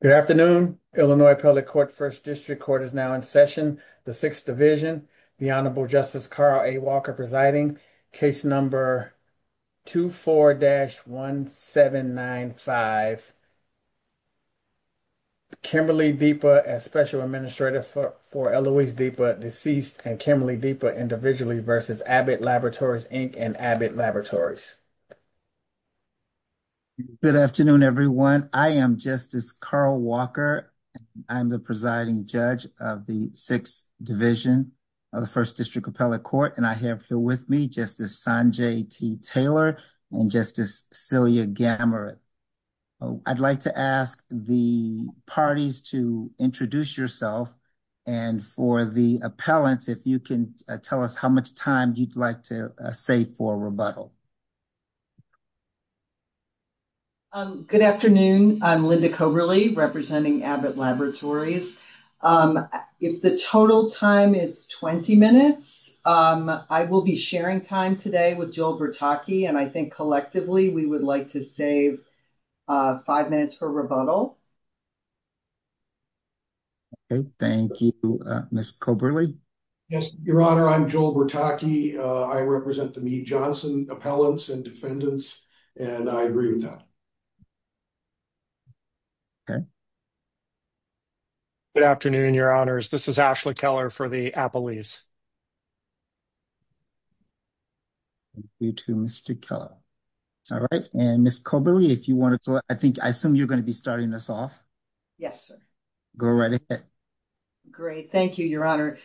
Good afternoon. Illinois Public Court First District Court is now in session. The 6th Division. The Honorable Justice Carl A. Walker presiding. Case number 24-1795. Kimberly Deppa as Special Administrator for Eloise Deppa, deceased, and Kimberly Deppa individually v. Abbott Laboratories, Inc. and Abbott Laboratories. Good afternoon, everyone. I am Justice Carl Walker. I'm the presiding judge of the 6th Division of the First District Appellate Court, and I have here with me Justice Sanjay T. Taylor and Justice Celia Gammarat. I'd like to ask the parties to introduce yourself, and for the appellants, if you can tell us how much time you'd like to save for rebuttal. Good afternoon. I'm Linda Koberly, representing Abbott Laboratories. If the total time is 20 minutes, I will be sharing time today with Joel Bertocchi, and I think, collectively, we would like to save 5 minutes for rebuttal. Okay, thank you. Ms. Koberly? Yes, Your Honor, I'm Joel Bertocchi. I represent the Johnson Appellants and Defendants, and I agree with them. Good afternoon, Your Honors. This is Ashley Keller for the Appellees. Thank you to Mr. Keller. All right, and Ms. Koberly, if you want to go, I think, I assume you're going to be starting us off. Yes, sir. Go right ahead. Great, thank you, Your Honor.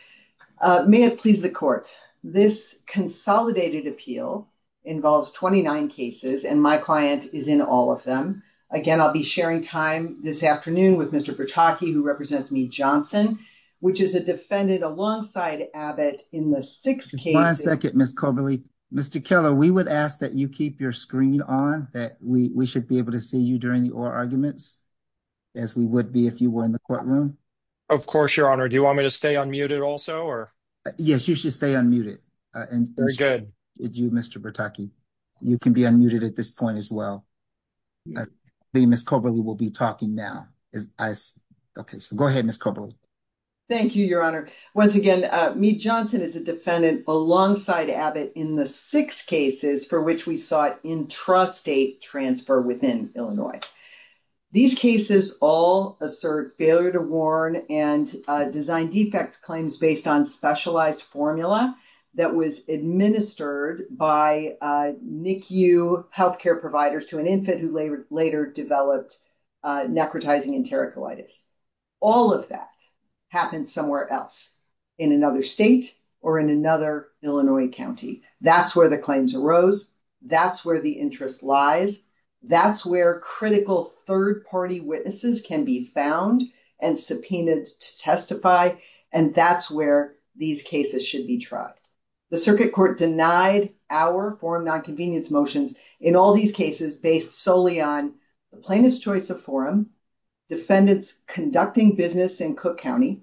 May it please the Court, this consolidated appeal involves 29 cases, and my client is in all of them. Again, I'll be sharing time this afternoon with Mr. Bertocchi, who represents me, Johnson, which is a defendant alongside Abbott in the six cases. One second, Ms. Koberly. Mr. Keller, we would ask that you keep your screen on, that we should be able to see you during the oral arguments, as we would be if you were in the courtroom. Of course, Your Honor. Do you want me to stay unmuted also? Yes, you should stay unmuted, Mr. Bertocchi. You can be unmuted at this point as well. Ms. Koberly will be talking now. Okay, so go ahead, Ms. Koberly. Thank you, Your Honor. Once again, me, Johnson, is a defendant alongside Abbott in the six cases for which we sought intrastate transfer within Illinois. These cases all assert failure to warn and design defect claims based on specialized formula that was administered by NICU health care providers to an infant who later developed necrotizing enterocolitis. All of that happened somewhere else, in another state or in another Illinois county. That's where the claims arose. That's where the interest lies. That's where critical third-party witnesses can be found and subpoenaed to testify, and that's where these cases should be tried. The circuit court denied our forum nonconvenience motions in all these cases based solely on the plaintiff's choice of forum, defendants conducting business in Cook County,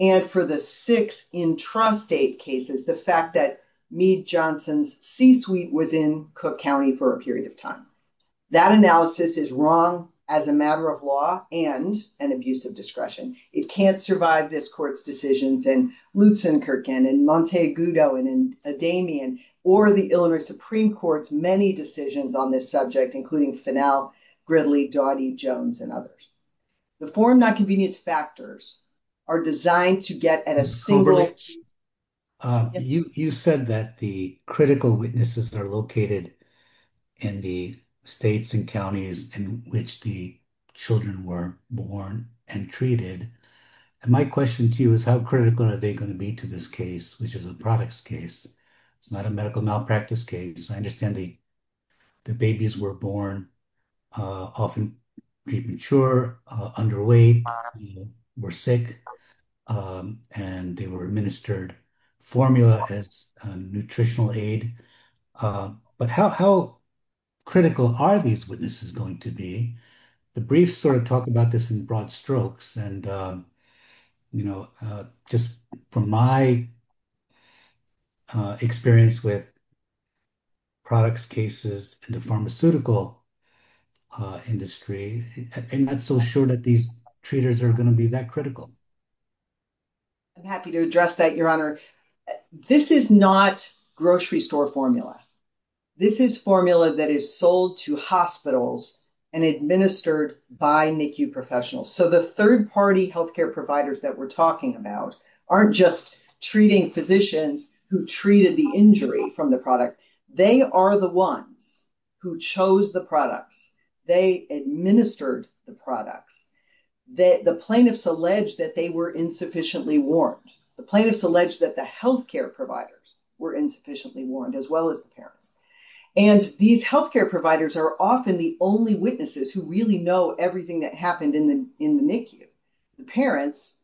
and for the six intrastate cases, the fact that me, Johnson's C-suite was in Cook County for a period of time. That analysis is wrong as a matter of law and an abuse of discretion. It can't survive this court's decisions in Lutzenkirk and in Montego and in Damien or the Illinois Supreme Court's many decisions on this subject, including Fennel, Gridley, Dottie, Jones, and others. The forum nonconvenience factors are designed to get at a single... You said that the critical witnesses are located in the states and counties in which the children were born and treated, and my question to you is how critical are they going to be to this case, which is a products case? It's not a medical malpractice case. I understand the babies were born often premature, underweight, were sick, and they were administered formula as nutritional aid, but how critical are these witnesses going to be? The briefs sort of talk about this in broad strokes, and just from my experience with products cases in the pharmaceutical industry, I'm not so sure that these treaters are going to be that critical. I'm happy to address that, Your Honor. This is not grocery store formula. This is formula that is sold to hospitals and administered by NICU professionals. So the third-party healthcare providers that we're talking about aren't just treating physicians who treated the injury from the product. They are the ones who chose the product. They administered the product. The plaintiffs allege that they were insufficiently warned. The plaintiffs allege that the healthcare providers were insufficiently warned as well as the parents. And these healthcare providers are often the only witnesses who really know everything that happened in the NICU. The parents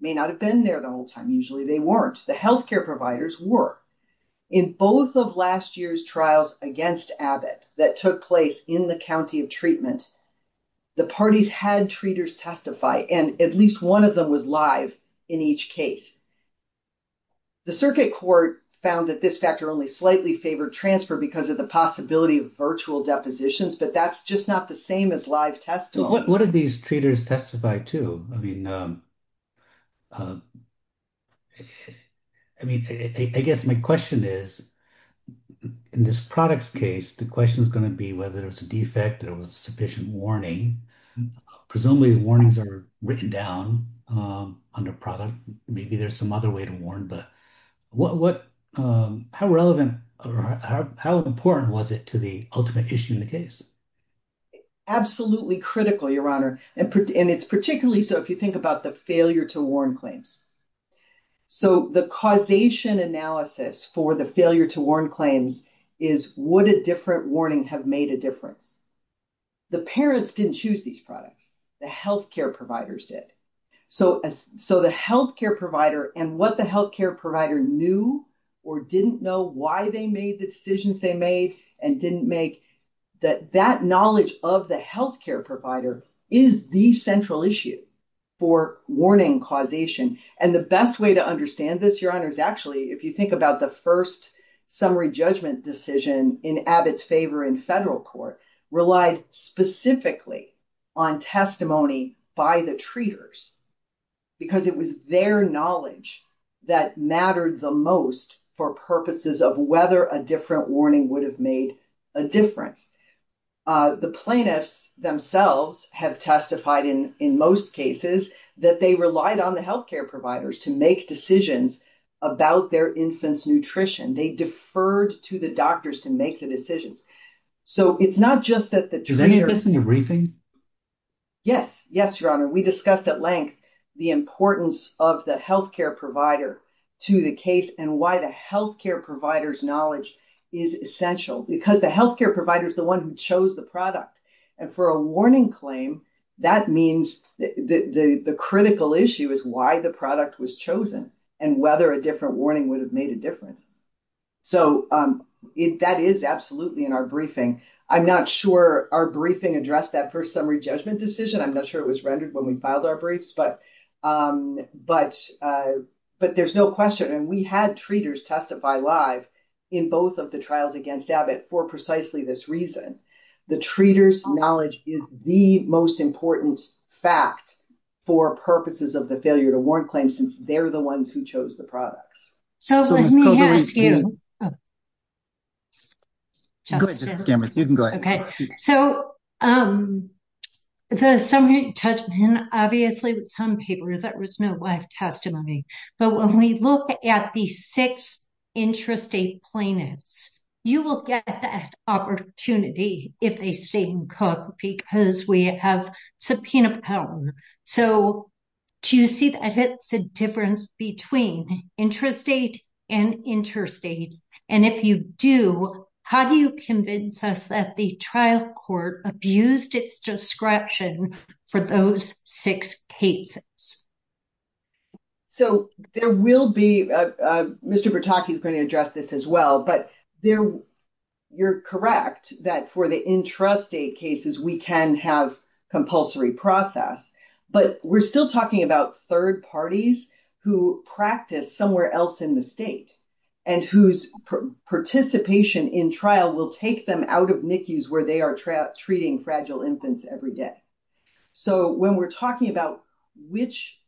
may not have been there the whole time. Usually they weren't. The healthcare providers were. In both of last year's trials against Abbott that took place in the county of treatment, the parties had treaters testify, and at least one of them was live in each case. The circuit court found that this factor only slightly favored transfer because of the possibility of virtual depositions, but that's just not the same as live testimony. So what did these treaters testify to? I mean, I guess my question is, in this product's case, the question is going to be whether it's a defect or a sufficient warning. Presumably warnings are written down on the product. Maybe there's some other way to warn. But how relevant or how important was it to the ultimate issue in the case? Absolutely critical, Your Honor. And it's particularly so if you think about the failure to warn claims. So the causation analysis for the failure to warn claims is would a different warning have made a difference? The parents didn't choose these products. The healthcare providers did. So the healthcare provider and what the healthcare provider knew or didn't know why they made the decisions they made and didn't make, that that knowledge of the healthcare provider is the central issue for warning causation. And the best way to understand this, Your Honor, is actually if you think about the first summary judgment decision in Abbott's favor in federal court, relied specifically on testimony by the treaters because it was their knowledge that mattered the most for purposes of whether a different warning would have made a difference. The plaintiffs themselves have testified in most cases that they relied on the healthcare providers to make decisions about their infant's nutrition. They deferred to the doctors to make the decision. So it's not just that the treaters... Yes. Yes, Your Honor. We discussed at length the importance of the healthcare provider to the case and why the healthcare provider's knowledge is essential because the healthcare provider is the one who chose the product. And for a warning claim, that means the critical issue is why the product was chosen and whether a different warning would have made a difference. So that is absolutely in our briefing. I'm not sure our briefing addressed that first summary judgment decision. I'm not sure it was rendered when we filed our briefs, but there's no question. And we had treaters testify live in both of the trials against Abbott for precisely this reason. The treaters' knowledge is the most important fact for purposes of the failure to warn claims since they're the ones who chose the product. So, let me ask you. Go ahead. So, the summary judgment, obviously, with some papers, there was no live testimony. But when we look at the 6 intrastate plaintiffs, you will get that opportunity if they stay and cook because we have subpoena power. So, do you see the difference between intrastate and interstate? And if you do, how do you convince us that the trial court abused its discretion for those 6 cases? So, there will be, Mr. Bertocchi is going to address this as well, but you're correct that for the intrastate cases, we can have compulsory process. But we're still talking about third parties who practice somewhere else in the state and whose participation in trial will take them out of NICUs where they are treating fragile infants every day. So, when we're talking about which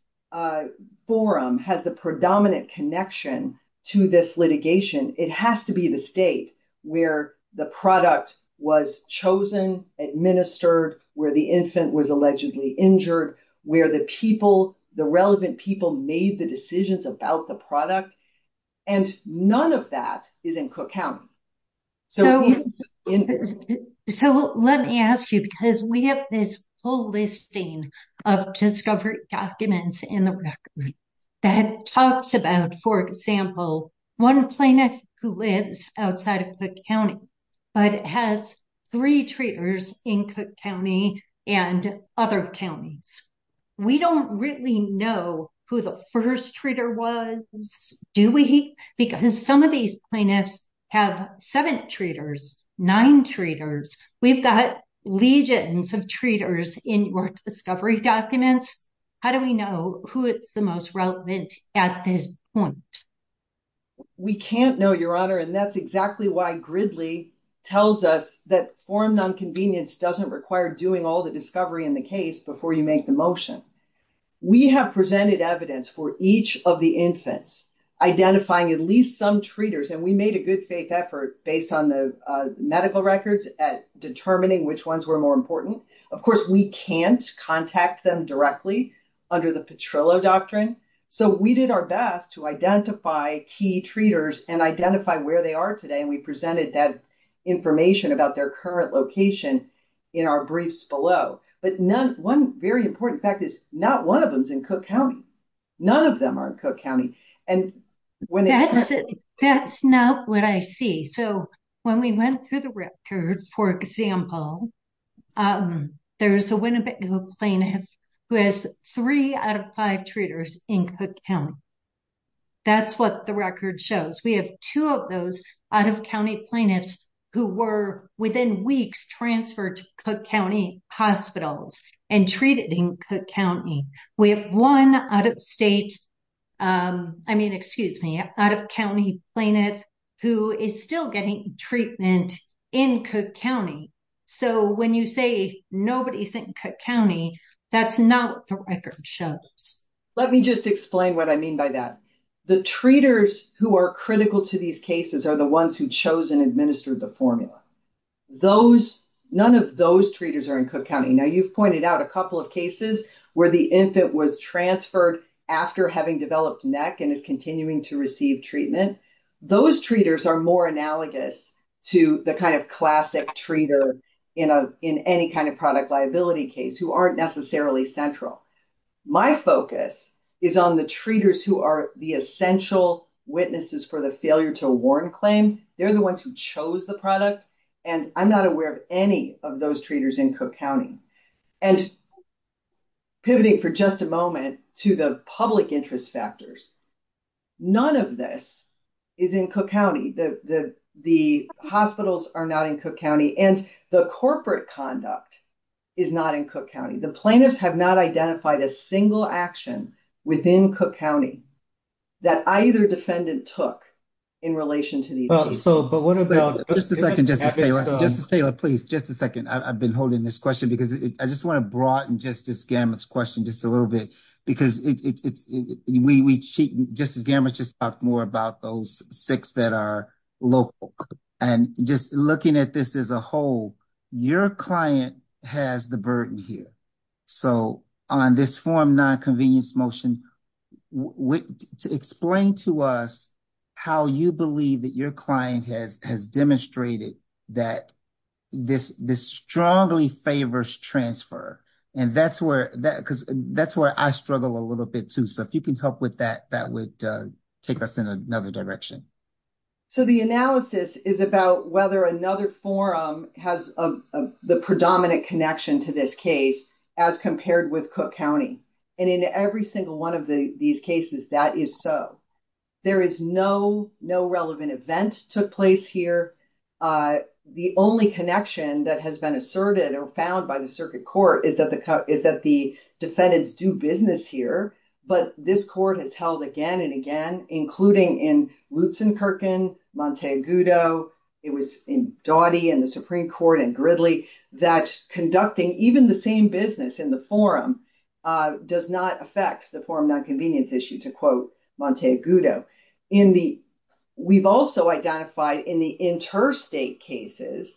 forum has the predominant connection to this litigation, it has to be the state where the product was chosen, administered, where the infant was allegedly injured, where the people, the relevant people made the decisions about the product. And none of that is in Cook County. So, let me ask you, because we have this whole listing of discovery documents in the record that talks about, for example, 1 plaintiff who lives outside of Cook County, but has 3 treaters in Cook County and other counties. We don't really know who the first treater was, do we? Because some of these plaintiffs have 7 treaters, 9 treaters. We've got legions of treaters in your discovery documents. How do we know who is the most relevant at this point? We can't know, Your Honor, and that's exactly why Gridley tells us that forum nonconvenience doesn't require doing all the discovery in the case before you make the motion. We have presented evidence for each of the infants, identifying at least some treaters. And we made a good faith effort based on the medical records at determining which ones were more important. Of course, we can't contact them directly under the Petrillo Doctrine. So, we did our best to identify key treaters and identify where they are today. And we presented that information about their current location in our briefs below. But one very important fact is not one of them is in Cook County. None of them are in Cook County. That's not what I see. So, when we went through the records, for example, there's a Winnebago plaintiff who has 3 out of 5 treaters in Cook County. That's what the record shows. We have 2 of those out-of-county plaintiffs who were, within weeks, transferred to Cook County hospitals and treated in Cook County. We have 1 out-of-state, I mean, excuse me, out-of-county plaintiff who is still getting treatment in Cook County. So, when you say nobody's in Cook County, that's not what the record shows. Let me just explain what I mean by that. The treaters who are critical to these cases are the ones who chose and administered the formula. None of those treaters are in Cook County. Now, you've pointed out a couple of cases where the infant was transferred after having developed neck and is continuing to receive treatment. Those treaters are more analogous to the kind of classic treater in any kind of product liability case who aren't necessarily central. My focus is on the treaters who are the essential witnesses for the failure-to-award claim. They're the ones who chose the product, and I'm not aware of any of those treaters in Cook County. Pivoting for just a moment to the public interest factors, none of this is in Cook County. The hospitals are not in Cook County, and the corporate conduct is not in Cook County. The plaintiffs have not identified a single action within Cook County that either defendant took in relation to these cases. Just a second. Just a second. I've been holding this question because I just want to broaden Justice Gamert's question just a little bit. Justice Gamert just talked more about those 6 that are local. Just looking at this as a whole, your client has the burden here. On this form, nonconvenience motion, explain to us how you believe that your client has demonstrated that this strongly favors transfer. That's where I struggle a little bit, too. If you can help with that, that would take us in another direction. The analysis is about whether another forum has the predominant connection to this case as compared with Cook County. In every single one of these cases, that is so. There is no relevant event took place here. The only connection that has been asserted or found by the circuit court is that the defendants do business here, but this court has told again and again, including in Roots and Kirkin, Monte Agudo, it was in Doughty and the Supreme Court and Gridley, that conducting even the same business in the forum does not affect the forum nonconvenience issue, to quote Monte Agudo. We've also identified in the interstate cases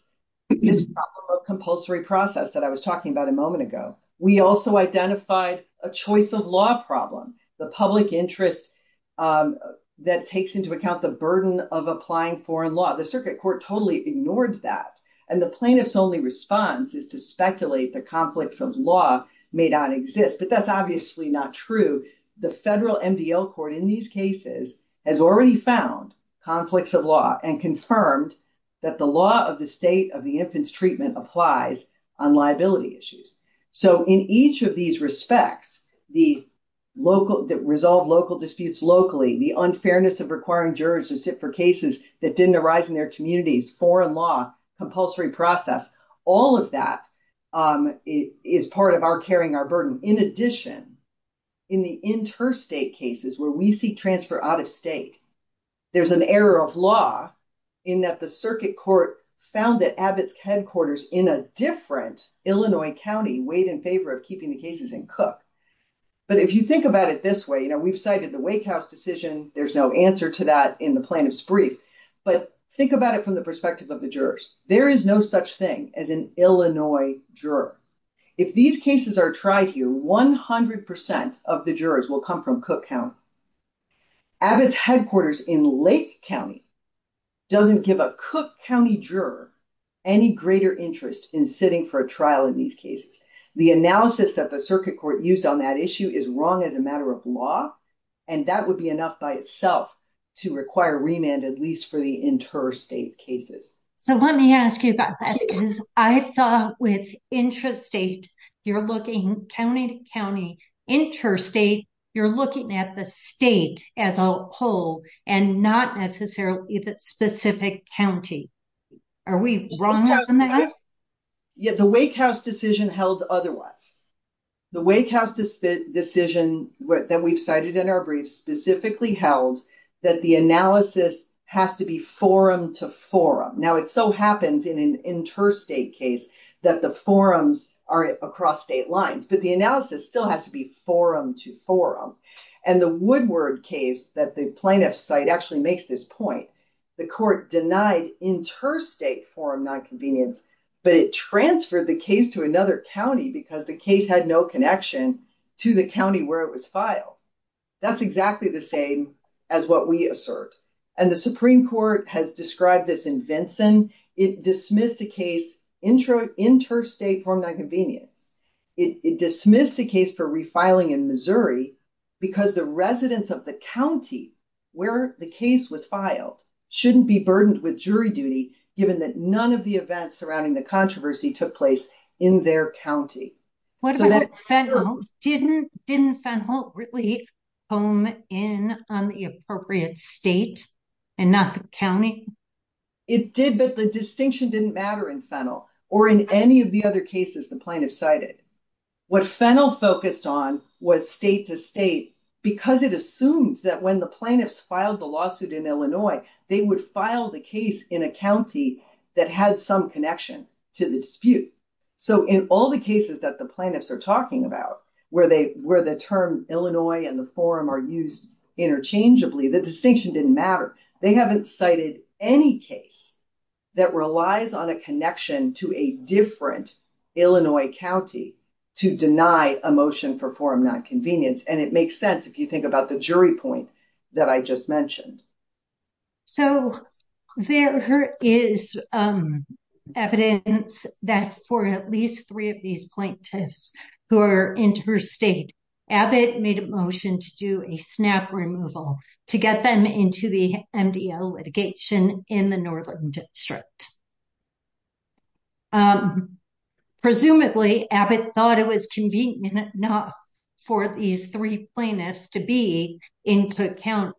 this problem of compulsory process that I was talking about a moment ago. We also identified a choice of law problem, the public interest that takes into account the burden of applying foreign law. The circuit court totally ignored that. The plaintiff's only response is to speculate that conflicts of law may not exist, but that's obviously not true. The federal NBL court in these cases has already found conflicts of law and confirmed that the law of the state of the infant's treatment applies on liability issues. In each of these respects, the resolve local disputes locally, the unfairness of requiring jurors to sit for cases that didn't arise in their communities, foreign law, compulsory process, all of that is part of our carrying our burden. In addition, in the interstate cases where we see transfer out of state, there's an error of law in that the circuit court found that Abbott's headquarters in a different Illinois county weighed in favor of keeping the cases in Cook. Abbott's headquarters in Lake County doesn't give a Cook County juror any greater interest in sitting for a trial in these cases. The analysis that the circuit court uses to determine whether or not a case is in the state of Illinois or in the state of Cook is a very, very important piece of evidence. The evidence that's used on that issue is wrong as a matter of law, and that would be enough by itself to require remand at least for the interstate cases. Let me ask you about that because I saw with interstate, you're looking county to county. Interstate, you're looking at the state as a whole and not necessarily the specific county. Are we wrong on that? The Wake House decision held otherwise. The Wake House decision that we've cited in our brief specifically held that the analysis has to be forum to forum. Now, it so happens in an interstate case that the forums are across state lines, but the analysis still has to be forum to forum. The Woodward case that the plaintiff's site actually makes this point, the court denied interstate forum nonconvenience, but it transferred the case to another county because the case had no connection to the county where it was filed. That's exactly the same as what we assert. The Supreme Court has described this in Vinson. It dismissed the case interstate forum nonconvenience. It dismissed the case for refiling in Missouri because the residents of the county where the case was filed shouldn't be burdened with jury duty given that none of the events surrounding the controversy took place in their county. Didn't Fennell really hone in on the appropriate state and not the county? It did, but the distinction didn't matter in Fennell or in any of the other cases the plaintiff cited. What Fennell focused on was state to state because it assumes that when the plaintiffs filed the lawsuit in Illinois, they would file the case in a county that had some connection to the dispute. In all the cases that the plaintiffs are talking about where the term Illinois and the forum are used interchangeably, the distinction didn't matter. They haven't cited any case that relies on a connection to a different Illinois county to deny a motion for forum nonconvenience. It makes sense if you think about the jury point that I just mentioned. So, there is evidence that for at least three of these plaintiffs who are interstate, Abbott made a motion to do a snap removal to get them into the MDL litigation in the northern district. Presumably, Abbott thought it was convenient enough for these three plaintiffs to be in Cook County.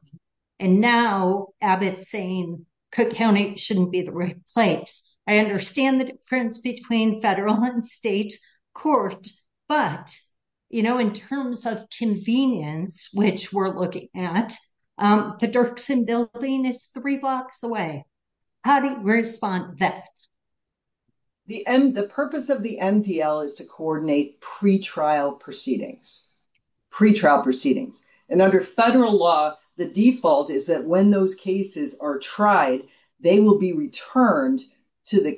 And now Abbott is saying Cook County shouldn't be the right place. I understand the difference between federal and state courts, but in terms of convenience, which we're looking at, the Dirksen building is three blocks away. How do you respond to that? The purpose of the MDL is to coordinate pretrial proceedings. And under federal law, the default is that when those cases are tried, they will be returned to the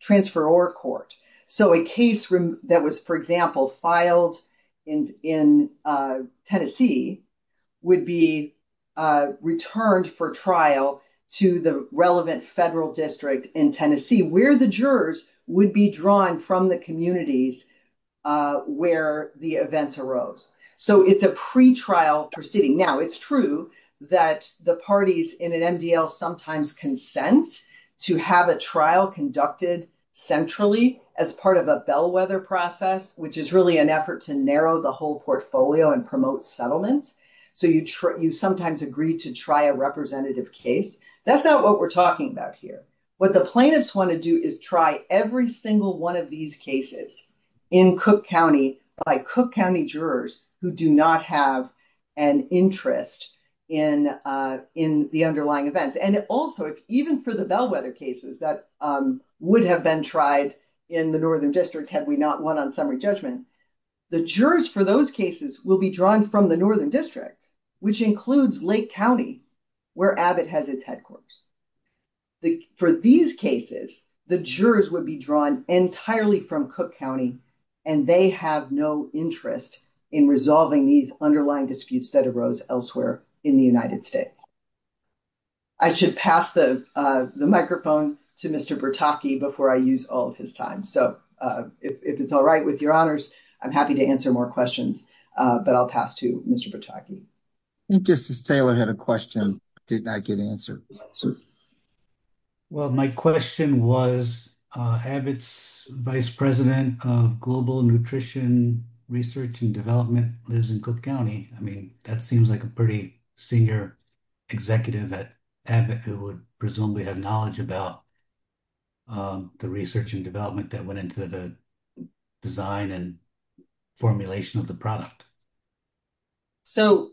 transferor court. So, a case that was, for example, filed in Tennessee would be returned for trial to the relevant federal district in Tennessee where the jurors would be drawn from the communities where the events arose. So, it's a pretrial proceeding. Now, it's true that the parties in an MDL sometimes consent to have a trial conducted centrally as part of a bellwether process, which is really an effort to narrow the whole portfolio and promote settlement. So, you sometimes agree to try a representative case. That's not what we're talking about here. What the plaintiffs want to do is try every single one of these cases in Cook County by Cook County jurors who do not have an interest in the underlying events. And also, even for the bellwether cases that would have been tried in the Northern District had we not won on summary judgment, the jurors for those cases will be drawn from the Northern District, which includes Lake County, where Abbott has its headquarters. For these cases, the jurors would be drawn entirely from Cook County, and they have no interest in resolving these underlying disputes that arose elsewhere in the United States. I should pass the microphone to Mr. Bertocchi before I use all of his time. So, if it's all right with your honors, I'm happy to answer more questions, but I'll pass to Mr. Bertocchi. I think Justice Taylor had a question that did not get answered. Well, my question was Abbott's vice president of global nutrition research and development lives in Cook County. I mean, that seems like a pretty senior executive at Abbott who would presumably have knowledge about the research and development that went into the design and formulation of the product. So,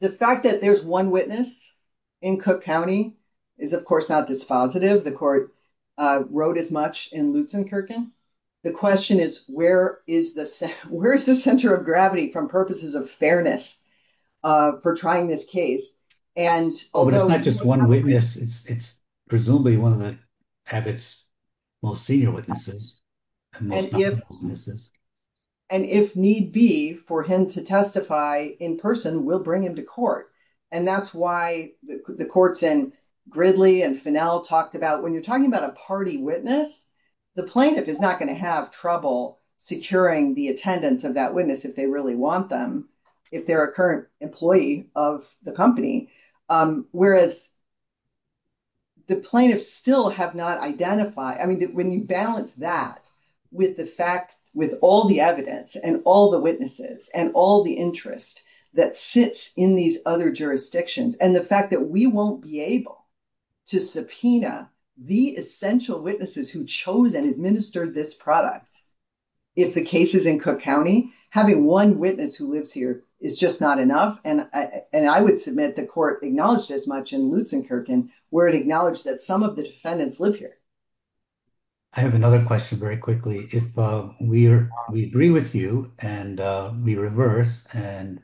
the fact that there's one witness in Cook County is, of course, not dispositive. The court wrote as much in Lutzenkirchen. The question is, where is the center of gravity from purposes of fairness for trying this case? It's not just one witness. It's presumably one of Abbott's most senior witnesses. And if need be for him to testify in person, we'll bring him to court. And that's why the courts in Gridley and Finnell talked about, when you're talking about a party witness, the plaintiff is not going to have trouble securing the attendance of that witness if they really want them, if they're a current employee of the company. Whereas the plaintiffs still have not identified, I mean, when you balance that with the fact, with all the evidence and all the witnesses and all the interest that sits in these other jurisdictions and the fact that we won't be able to subpoena the essential witnesses who chose and administered this product. If the case is in Cook County, having one witness who lives here is just not enough. And I would submit the court acknowledged as much in Lutzenkirchen where it acknowledged that some of the defendants live here. I have another question very quickly. If we agree with you and we reverse and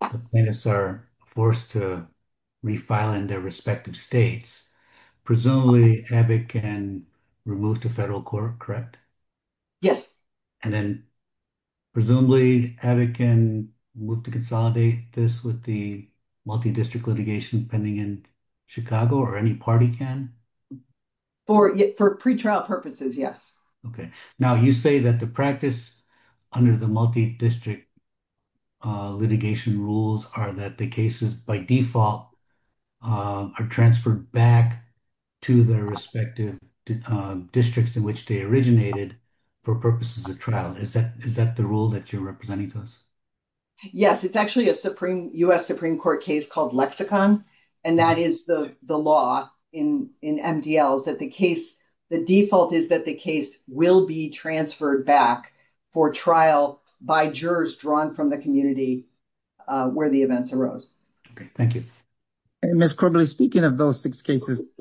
the plaintiffs are forced to refile in their respective states, presumably Abbott can remove to federal court, correct? Yes. And then presumably Abbott can work to consolidate this with the multi-district litigation pending in Chicago or any party can? For pre-trial purposes, yes. Okay. Now you say that the practice under the multi-district litigation rules are that the cases by default are transferred back to their respective districts in which they originated for purposes of trial. Is that the rule that you're representing to us? Yes. It's actually a U.S. Supreme Court case called Lexicon and that is the law in MDLs that the case, the default is that the case will be transferred back for trial by jurors drawn from the community where the events arose. Okay. Thank you. Ms. Corbett, speaking of those six cases,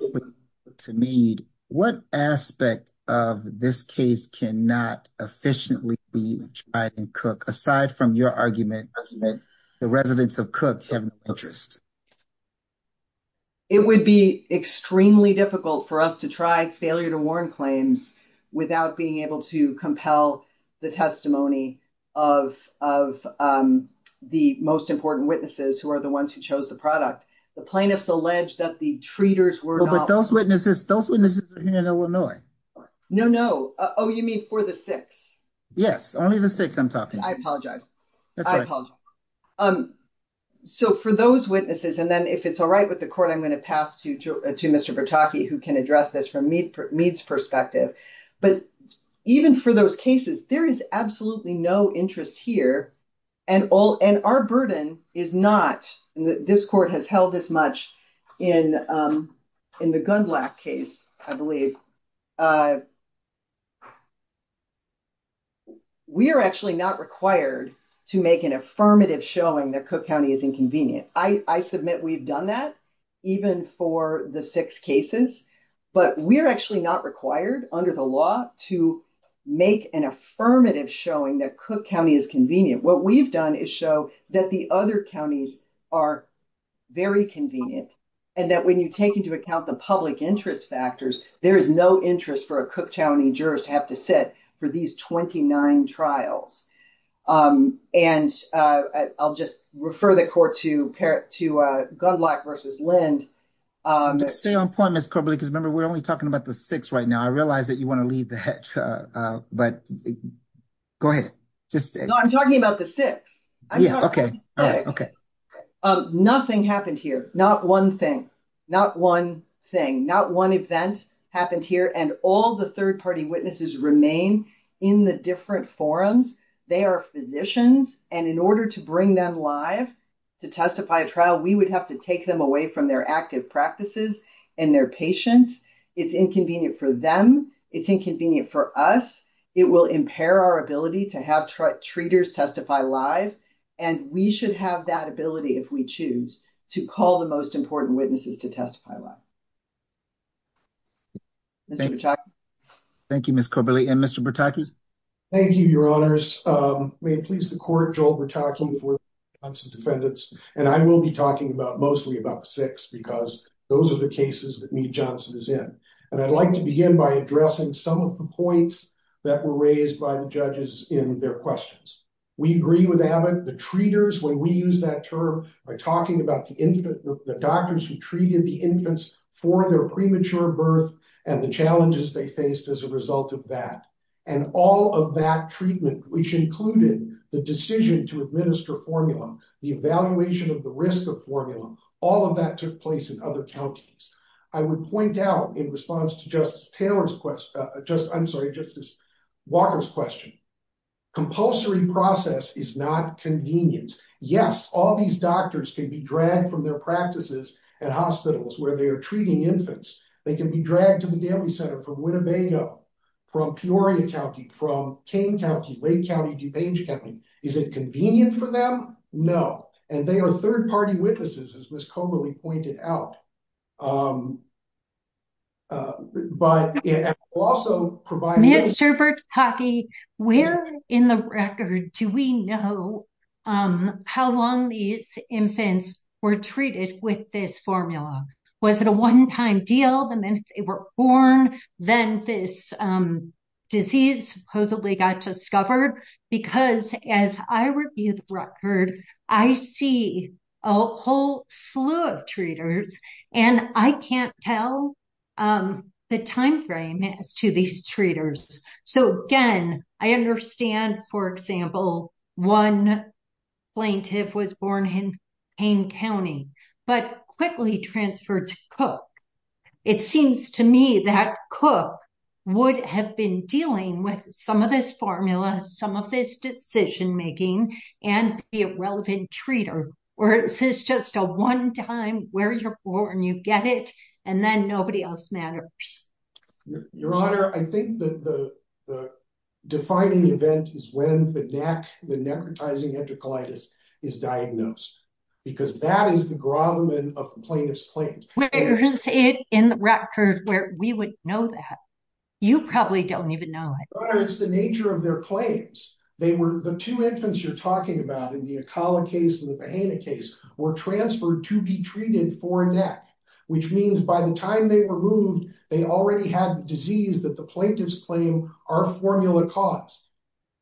what aspect of this case cannot efficiently be tried in Cook aside from your argument that the residents of Cook have no interest? It would be extremely difficult for us to try failure-to-warn claims without being able to compel the testimony of the most important witnesses who are the ones who chose the product. The plaintiffs allege that the treaters were not- But those witnesses, those witnesses are here in Illinois. No, no. Oh, you mean for the six? Yes. Only the six I'm talking about. I apologize. That's fine. So for those witnesses, and then if it's all right with the court, I'm going to pass to Mr. Bertocchi who can address this from Meade's perspective. But even for those cases, there is absolutely no interest here and our burden is not- that Cook County is inconvenient. I submit we've done that even for the six cases, but we're actually not required under the law to make an affirmative showing that Cook County is convenient. What we've done is show that the other counties are very convenient and that when you take into account the public interest factors, there is no interest for a Cook County juror to have to sit for these 29 trials. And I'll just refer the court to Gundlach versus Lins. Stay on point, Ms. Koeberle, because remember, we're only talking about the six right now. I realize that you want to leave the hedge, but go ahead. No, I'm talking about the six. Yeah, okay. Nothing happened here. Not one thing. Not one thing. Not one event happened here, and all the third-party witnesses remain in the different forums. They are physicians, and in order to bring them live to testify at trial, we would have to take them away from their active practices and their patients. It's inconvenient for them. It's inconvenient for us. It will impair our ability to have treaters testify live, and we should have that ability, if we choose, to call the most important witnesses to testify live. Thank you, Ms. Koeberle. And Mr. Bertocchi? Thank you, Your Honors. May it please the court, Joe Bertocchi for the Johnson defendants. And I will be talking mostly about the six, because those are the cases that Neat-Johnson is in. And I'd like to begin by addressing some of the points that were raised by the judges in their questions. We agree with Adam. The treaters, when we use that term, are talking about the doctors who treated the infants for their premature birth and the challenges they faced as a result of that. And all of that treatment, which included the decision to administer formula, the evaluation of the risk of formula, all of that took place in other counties. I would point out, in response to Justice Walker's question, compulsory process is not convenience. Yes, all these doctors can be dragged from their practices at hospitals where they are treating infants. They can be dragged to the family center from Winnebago, from Peoria County, from Kane County, Lake County, DuPage County. Is it convenient for them? No. And they are third-party witnesses, as Ms. Koeberle pointed out. But it also provides... Mr. Bertocchi, where in the record do we know how long these infants were treated with this formula? Was it a one-time deal, the minute they were born, then this disease supposedly got discovered? Well, it's hard because, as I review the record, I see a whole slew of treaters, and I can't tell the timeframe as to these treaters. So, again, I understand, for example, one plaintiff was born in Kane County but quickly transferred to Cook. It seems to me that Cook would have been dealing with some of this formula, some of this decision-making, and be a relative treater. Or is this just a one-time, where you're born, you get it, and then nobody else matters? Your Honor, I think the defining event is when the necrotizing enterocolitis is diagnosed. Because that is the grommet of the plaintiff's claim. There is it in the record where we would know that. You probably don't even know it. Your Honor, it's the nature of their claims. The two infants you're talking about, in the Akala case and the Bahena case, were transferred to be treated for NEC, which means by the time they were moved, they already had the disease that the plaintiffs claim our formula caused.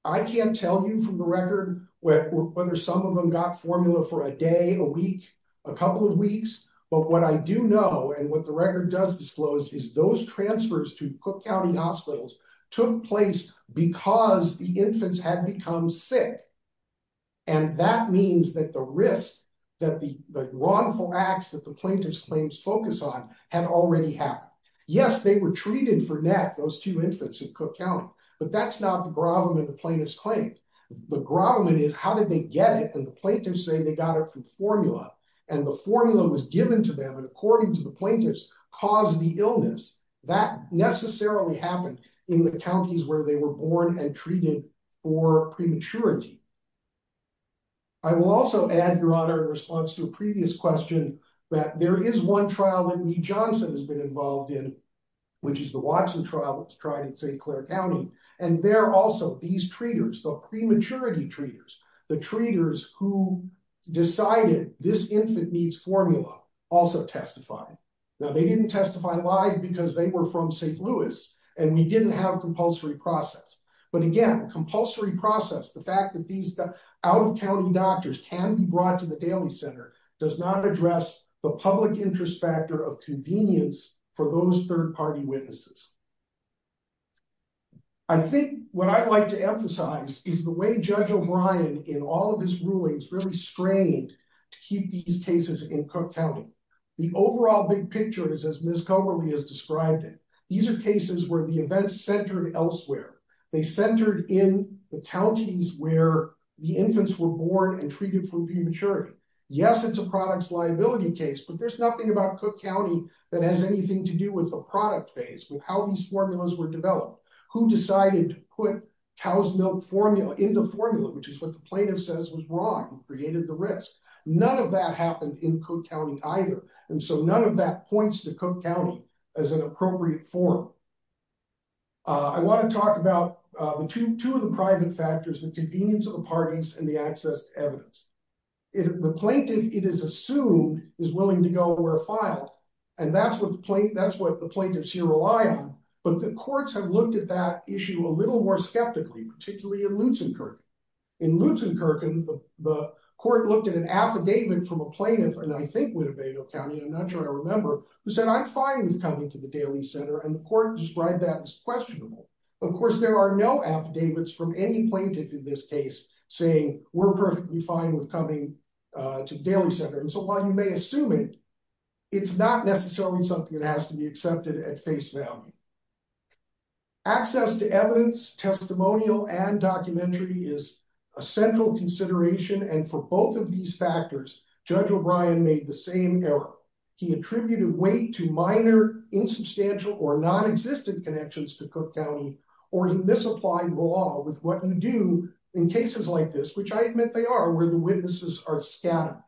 I can't tell you from the record whether some of them got formula for a day, a week, a couple of weeks. But what I do know, and what the record does disclose, is those transfers to Cook County hospitals took place because the infants had become sick. And that means that the risk that the wrongful acts that the plaintiffs' claims focus on had already happened. Yes, they were treated for NEC, those two infants, in Cook County. But that's not the grommet of the plaintiff's claim. The grommet is how did they get it, and the plaintiffs say they got it through formula. And the formula was given to them, and according to the plaintiffs, caused the illness. That necessarily happened in the counties where they were born and treated for prematurity. I will also add, Your Honor, in response to a previous question, that there is one trial that Lee Johnson has been involved in, which is the Watson trial. It's tried in St. Clair County. And there also, these treaters, the prematurity treaters, the treaters who decided this infant needs formula, also testified. Now, they didn't testify live because they were from St. Louis, and we didn't have a compulsory process. But again, compulsory process, the fact that these out-of-county doctors can be brought to the family center, does not address the public interest factor of convenience for those third-party witnesses. I think what I'd like to emphasize is the way Judge O'Brien, in all of his rulings, really strained to keep these cases in Cook County. The overall big picture is as Ms. Comer has described it. These are cases where the events centered elsewhere. They centered in the counties where the infants were born and treated for prematurity. Yes, it's a product's liability case, but there's nothing about Cook County that has anything to do with the product phase or how these formulas were developed. Who decided to put cow's milk formula into formula, which is what the plaintiff says was wrong and created the risk. None of that happened in Cook County either. And so none of that points to Cook County as an appropriate forum. I want to talk about two of the private factors, the convenience of the parties and the access to evidence. The plaintiff, it is assumed, is willing to go where filed. And that's what the plaintiffs here rely on. But the courts have looked at that issue a little more skeptically, particularly in Lutzenkirchen. In Lutzenkirchen, the court looked at an affidavit from a plaintiff, and I think Winnebago County, I'm not sure I remember, who said, I'm fine with coming to the daily center. And the court described that as questionable. Of course, there are no affidavits from any plaintiff in this case saying, we're perfectly fine with coming to daily center. And so while you may assume it, it's not necessarily something that has to be accepted at face value. Access to evidence, testimonial, and documentary is a central consideration. And for both of these factors, Judge O'Brien made the same error. He attributed weight to minor, insubstantial, or nonexistent connections to Cook County or to misapplied law with what we do in cases like this, which I admit they are, where the witnesses are scattered.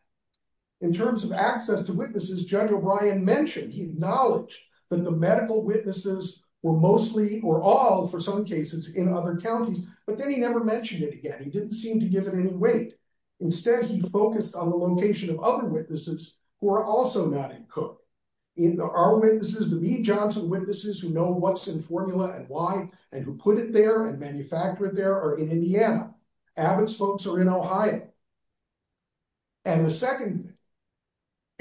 In terms of access to witnesses, Judge O'Brien mentioned, he acknowledged that the medical witnesses were mostly, or all for some cases, in other counties, but then he never mentioned it again. He didn't seem to give it any weight. Instead, he focused on the location of other witnesses who are also not in Cook. Our witnesses, the Lee Johnson witnesses who know what's in formula and why, and who put it there and manufactured there, are in Indiana. Abbott's folks are in Ohio. And the second.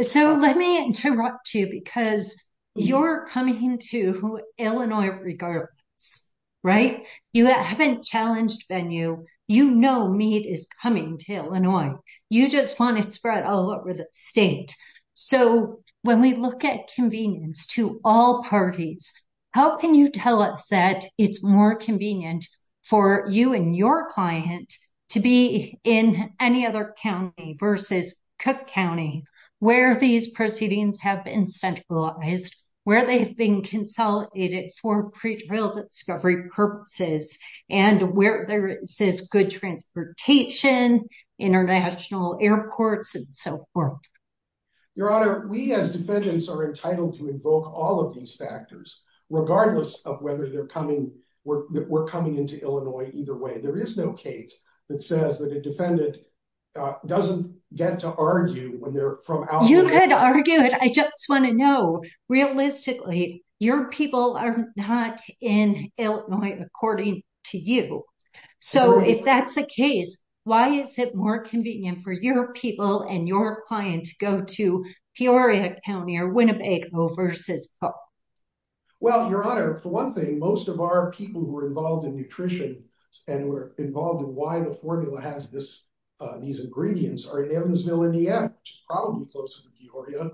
So, let me interrupt you because you're coming to Illinois, regardless, right? You haven't challenged venue. You know, meat is coming to Illinois. You just want to spread all over the state. So, when we look at convenience to all parties, how can you tell us that it's more convenient for you and your client to be in any other county versus Cook County where these proceedings have been centralized, where they've been consolidated for discovery purposes and where there is good transportation, international airports and so forth. Your Honor, we, as defendants, are entitled to invoke all of these factors, regardless of whether they're coming. We're coming into Illinois either way. There is no case that says that a defendant doesn't get to argue when they're from. You could argue it. I just want to know. Realistically, your people are not in Illinois, according to you. So, if that's the case, why is it more convenient for your people and your client to go to Peoria County or Winnebago versus Cook? Well, Your Honor, for one thing, most of our people who are involved in nutrition and were involved in why the formula has these ingredients are in Evansville, Indiana, which is probably closer to Peoria.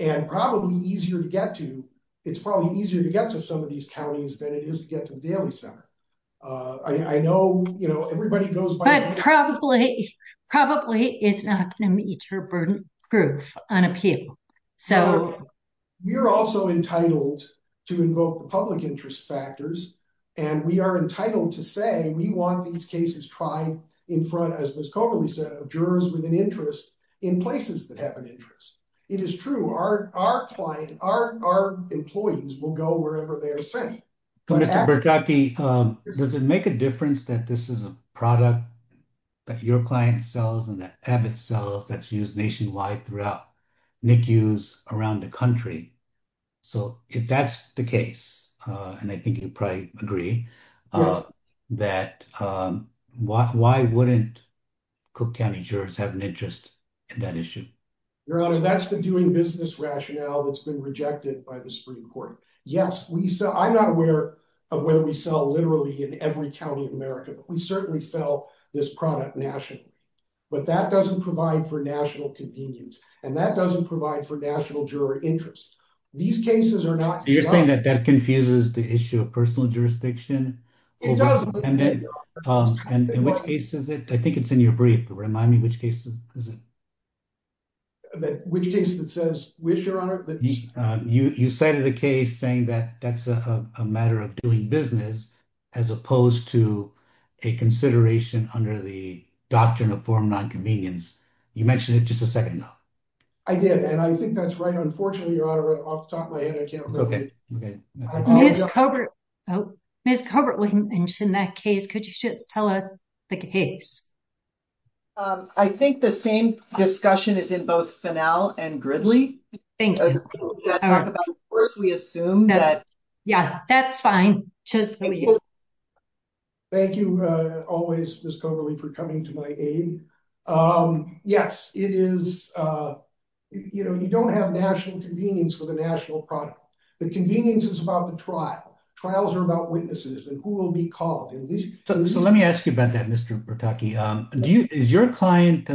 And probably easier to get to. It's probably easier to get to some of these counties than it is to get to Davis County. I know, you know, everybody goes by that. But probably it's not an extra-burdened group on appeal. So, we're also entitled to invoke the public interest factors, and we are entitled to say we want these cases tried in front, as Ms. Coleman said, of jurors with an interest in places that have an interest. It is true. Our client, our employees will go wherever they are sent. So, Mr. Bertocchi, does it make a difference that this is a product that your client sells and that Abbott sells that's used nationwide throughout NICUs around the country? So, if that's the case, and I think you'd probably agree, that why wouldn't Cook County jurors have an interest in that issue? Your Honor, that's the doing business rationale that's been rejected by the Supreme Court. Yes, I'm not aware of where we sell literally in every county in America, but we certainly sell this product nationally. But that doesn't provide for national convenience, and that doesn't provide for national juror interest. These cases are not- You're saying that that confuses the issue of personal jurisdiction? It does. And in what case is it? I think it's in your brief, but remind me which case it is. Which case it says which, Your Honor? You cited a case saying that that's a matter of doing business as opposed to a consideration under the Doctrine of Foreign Nonconvenience. You mentioned it just a second ago. I did, and I think that's right. Unfortunately, Your Honor, I'll stop right here. Okay. Ms. Hubbard, Ms. Hubbard mentioned that case. Could you tell us the case? I think the same discussion is in both Finnell and Gridley. Thank you. First, we assume that- Yes, that's fine. Thank you always, Ms. Connolly, for coming to my aid. Yes, you don't have national convenience with a national product. The convenience is about the trial. Trials are about witnesses and who will be called. So let me ask you about that, Mr. Bertocchi. Is your client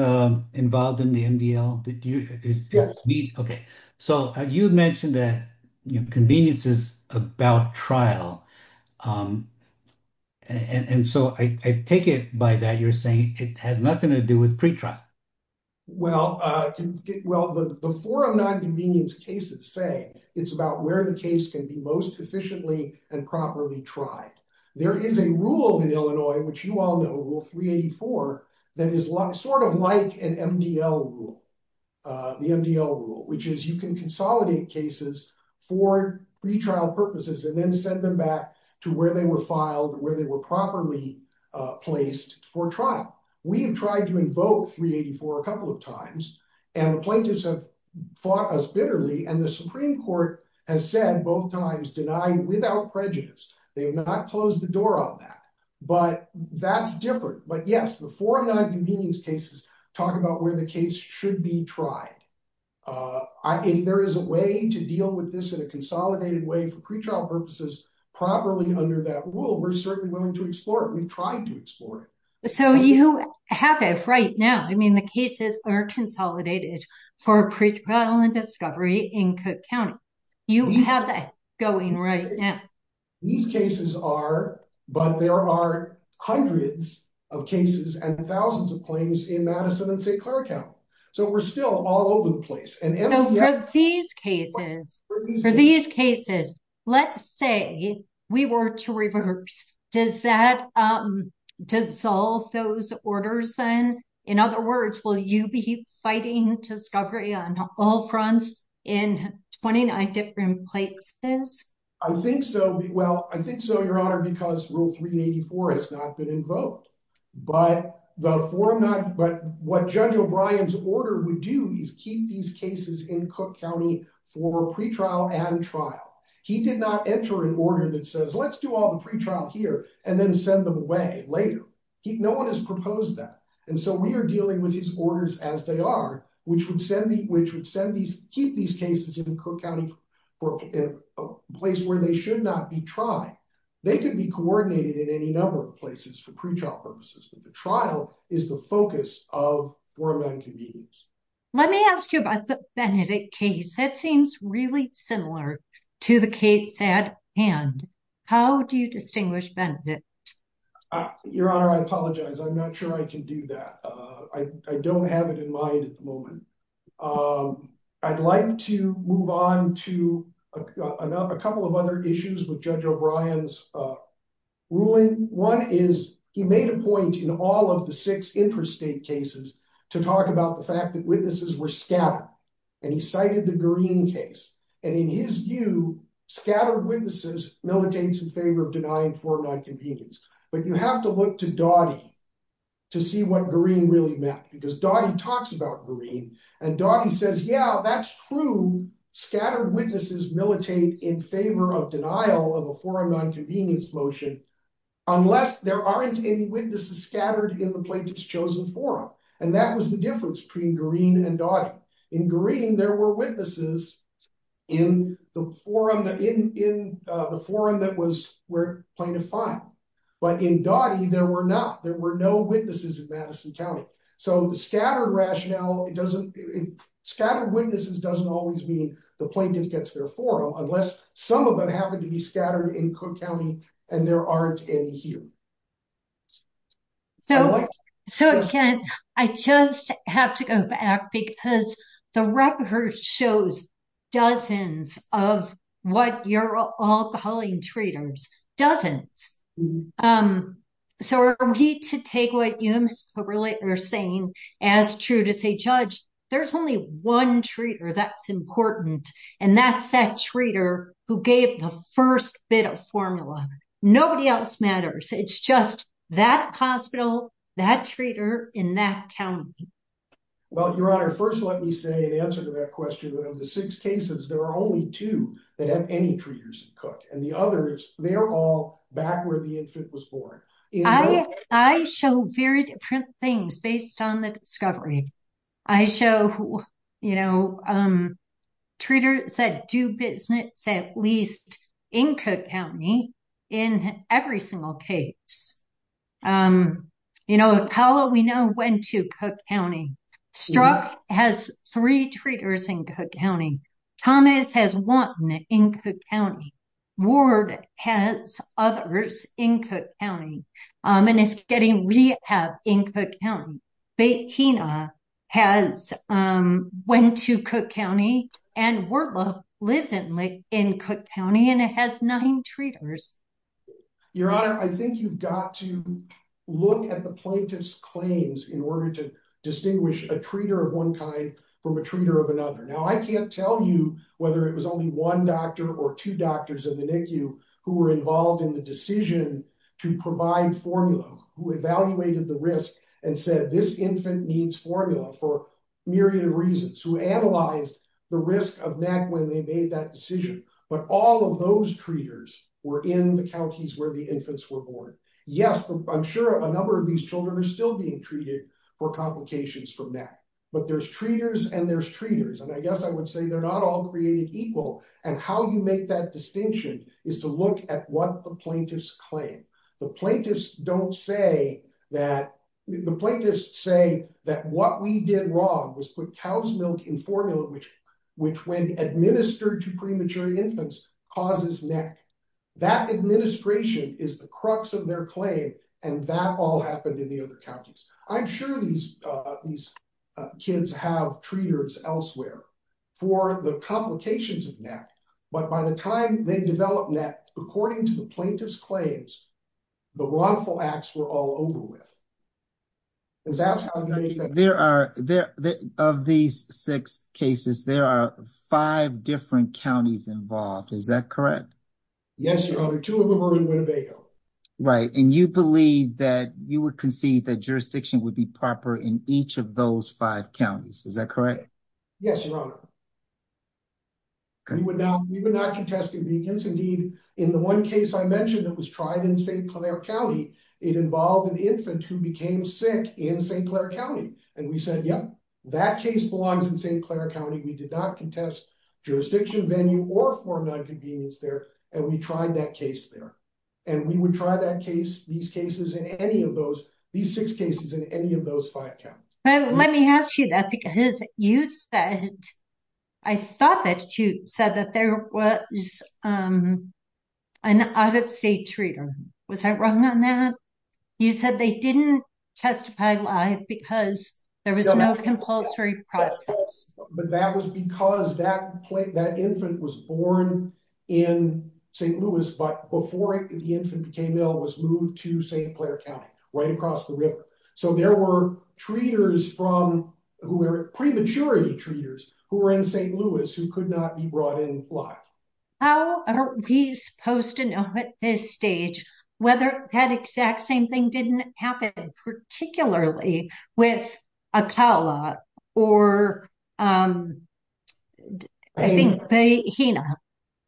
involved in the MDL? Yes. Okay. So you mentioned that convenience is about trial, and so I take it by that you're saying it has nothing to do with pretrial. Well, before a nonconvenience case is said, it's about where the case can be most efficiently and properly tried. There is a rule in Illinois, which you all know, Rule 384, that is sort of like an MDL rule, the MDL rule, which is you can consolidate cases for pretrial purposes and then send them back to where they were filed, where they were properly placed for trial. We have tried to invoke 384 a couple of times, and the plaintiffs have fought us bitterly, and the Supreme Court has said both times, denied without prejudice. They have not closed the door on that. But that's different. But, yes, before nonconvenience cases talk about where the case should be tried, there is a way to deal with this in a consolidated way for pretrial purposes properly under that rule. We're certainly willing to explore it. We've tried to explore it. So you have it right now. I mean, the cases are consolidated for pretrial and discovery in Cook County. You have that going right now. These cases are, but there are hundreds of cases and thousands of claims in Madison and St. Clair County. So we're still all over the place. So for these cases, let's say we were to reverse. Does that dissolve those orders then? In other words, will you be fighting discovery on all fronts in 29 different places? I think so. Well, I think so, Your Honor, because Rule 384 has not been invoked. But what Judge O'Brien's order would do is keep these cases in Cook County for pretrial and trial. He did not enter an order that says let's do all the pretrial here and then send them away later. No one has proposed that. And so we are dealing with these orders as they are, which would keep these cases in Cook County, a place where they should not be tried. They can be coordinated in any number of places for pretrial purposes. The trial is the focus of 419 meetings. Let me ask you about the Benedict case. That seems really similar to the case at hand. How do you distinguish Benedict? Your Honor, I apologize. I'm not sure I can do that. I don't have it in mind at the moment. I'd like to move on to a couple of other issues with Judge O'Brien's ruling. One is he made a point in all of the six intrastate cases to talk about the fact that witnesses were scattered. And he cited the Green case. And in his view, scattered witnesses no one takes in favor of denying 419 meetings. But you have to look to Dottie to see what Green really meant. Because Dottie talks about Green. And Dottie says, yeah, that's true. Scattered witnesses militate in favor of denial of a 419 convenience motion unless there aren't any witnesses scattered in the place it's chosen for them. And that was the difference between Green and Dottie. In Green, there were witnesses in the forum that was plaintiff-fine. But in Dottie, there were not. There were no witnesses in Madison County. So scattered witnesses doesn't always mean the plaintiff gets their forum unless some of them happen to be scattered in Cook County and there aren't any here. So, again, I just have to go back because the record shows dozens of what you're all calling treaters. Dozens. So we need to take what you're saying as true to say, judge, there's only one treater that's important. And that's that treater who gave the first bit of formula. Nobody else matters. It's just that hospital, that treater in that county. Well, Your Honor, first let me say in answer to that question, of the six cases, there are only two that have any treaters in Cook. And the others, they're all back where the infant was born. I show very different things based on the discovery. I show, you know, treaters that do business at least in Cook County in every single case. You know, how will we know when to Cook County? Strzok has three treaters in Cook County. Thomas has one in Cook County. Ward has others in Cook County. And it's getting rehab in Cook County. Bakina has went to Cook County. And Ward will live in Cook County. And it has nine treaters. Your Honor, I think you've got to look at the plaintiff's claims in order to distinguish a treater of one kind from a treater of another. Now, I can't tell you whether it was only one doctor or two doctors in the NICU who were involved in the decision to provide formula. Who evaluated the risk and said this infant needs formula for a myriad of reasons. Who analyzed the risk of NAC when they made that decision. But all of those treaters were in the counties where the infants were born. Yes, I'm sure a number of these children are still being treated for complications from NAC. But there's treaters and there's treaters. And I guess I would say they're not all created equal. And how you make that distinction is to look at what the plaintiffs claim. The plaintiffs don't say that the plaintiffs say that what we did wrong was put cow's milk in formula which when administered to premature infants causes NAC. That administration is the crux of their claim. And that all happened in the other counties. I'm sure these kids have treaters elsewhere for the complications of NAC. But by the time they develop NAC, according to the plaintiffs' claims, the wrongful acts were all over with. Because that's how NAC is made. There are, of these six cases, there are five different counties involved. Is that correct? Yes, Your Honor. Two of them are in Winnebago. Right. And you believe that you would concede that jurisdiction would be proper in each of those five counties. Is that correct? Yes, Your Honor. We would not contest it. Indeed, in the one case I mentioned that was tried in St. Clair County, it involved an infant who became sick in St. Clair County. And we said, yep, that case belongs in St. Clair County. We did not contest jurisdiction venue or form NAC convenience there. And we tried that case there. And we would try that case, these cases, in any of those, these six cases, in any of those five counties. Let me ask you that because you said, I thought that you said that there was an out-of-state treater. Was I wrong on that? You said they didn't testify live because there was no compulsory process. But that was because that infant was born in St. Louis, but before the infant became ill, was moved to St. Clair County, right across the river. So there were treaters from, who were prematurely treaters, who were in St. Louis who could not be brought in live. How are we supposed to know at this stage whether that exact same thing didn't happen, particularly with Atala or, I think, Hena?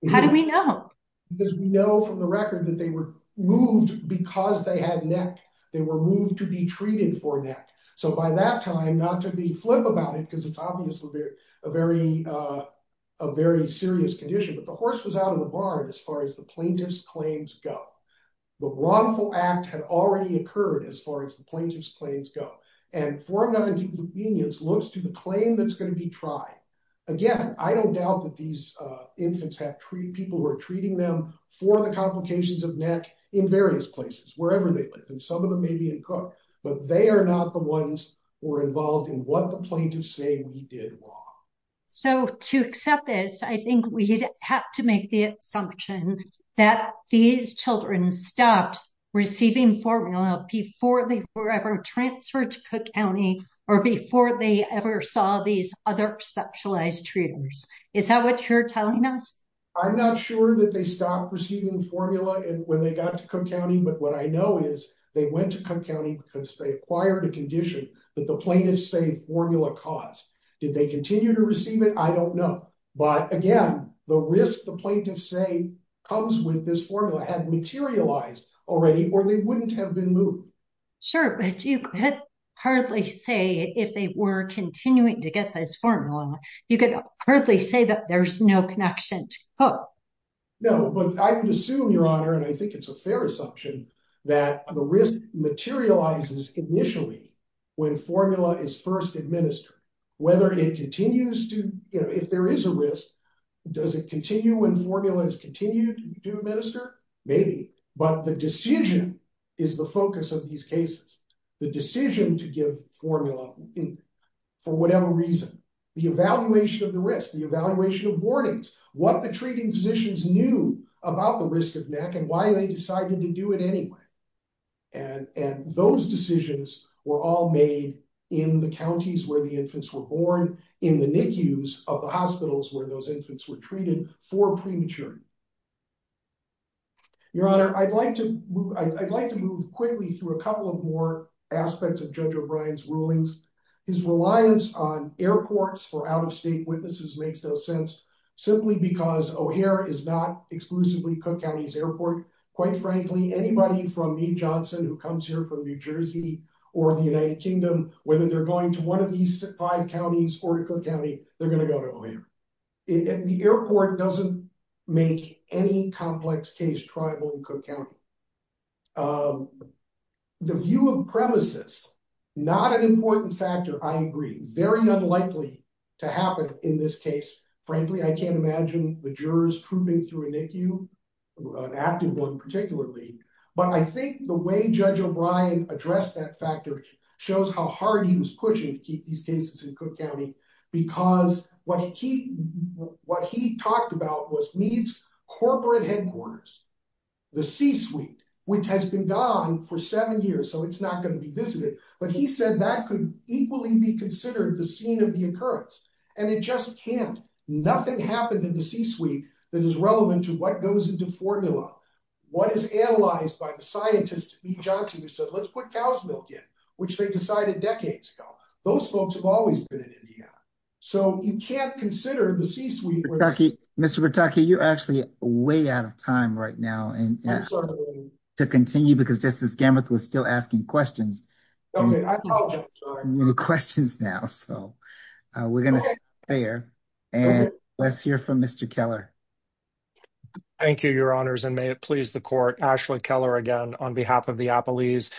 How do we know? Because we know from the record that they were moved because they had neck. They were moved to be treated for neck. So by that time, not to be flip about it because it's obviously a very serious condition, but the horse was out of the barn as far as the plaintiff's claims go. The wrongful act had already occurred as far as the plaintiff's claims go. And form NAC convenience looks to the claim that's going to be tried. Again, I don't doubt that these infants have people who are treating them for the complications of neck in various places, wherever they live. And some of them may be in Cook, but they are not the ones who are involved in what the plaintiffs say we did wrong. So to accept this, I think we have to make the assumption that these children stopped receiving formula before they were ever transferred to Cook County or before they ever saw these other exceptionalized treaters. Is that what you're telling us? I'm not sure that they stopped receiving formula when they got to Cook County. But what I know is they went to Cook County because they acquired the condition that the plaintiffs say formula caused. Did they continue to receive it? I don't know. But again, the risk the plaintiffs say comes with this formula had materialized already or they wouldn't have been moved. Sure, but you could hardly say if they were continuing to get this formula, you could hardly say that there's no connection to Cook. No, but I would assume, Your Honor, and I think it's a fair assumption, that the risk materializes initially when formula is first administered. Whether it continues to, if there is a risk, does it continue when formula is continued to administer? Maybe, but the decision is the focus of these cases. The decision to give formula for whatever reason, the evaluation of the risk, the evaluation of warnings, what the treating physicians knew about the risk of MAC and why they decided to do it anyway. And those decisions were all made in the counties where the infants were born, in the NICUs of the hospitals where those infants were treated for premature. Your Honor, I'd like to move quickly through a couple of more aspects of Judge O'Brien's rulings. His reliance on airports for out-of-state witnesses makes no sense, simply because O'Hare is not exclusively Cook County's airport. Quite frankly, anybody from New Johnson who comes here from New Jersey or the United Kingdom, whether they're going to one of these five counties or Cook County, they're going to go to O'Hare. The airport doesn't make any complex case tribal in Cook County. The view of premises, not an important factor, I agree. Very unlikely to happen in this case. Frankly, I can't imagine the jurors proving through a NICU, an active one particularly. But I think the way Judge O'Brien addressed that factor shows how hard he was pushing to keep these cases in Cook County, because what he talked about was needs corporate headquarters. The C-suite, which has been gone for seven years, so it's not going to be visited. But he said that could equally be considered the scene of the occurrence. And it just can't. Nothing happened in the C-suite that is relevant to what goes into formula. What is analyzed by the scientists at New Johnson who said, let's put cow's milk in, which they decided decades ago. Those folks have always been in Indiana. So you can't consider the C-suite. Mr. Pataki, you're actually way out of time right now. I'm sorry. To continue, because this is Gambit who is still asking questions. OK. I apologize. We have questions now. So we're going to stop there. And let's hear from Mr. Keller. Thank you, Your Honors. And may it please the court. Ashley Keller, again, on behalf of the Appalese.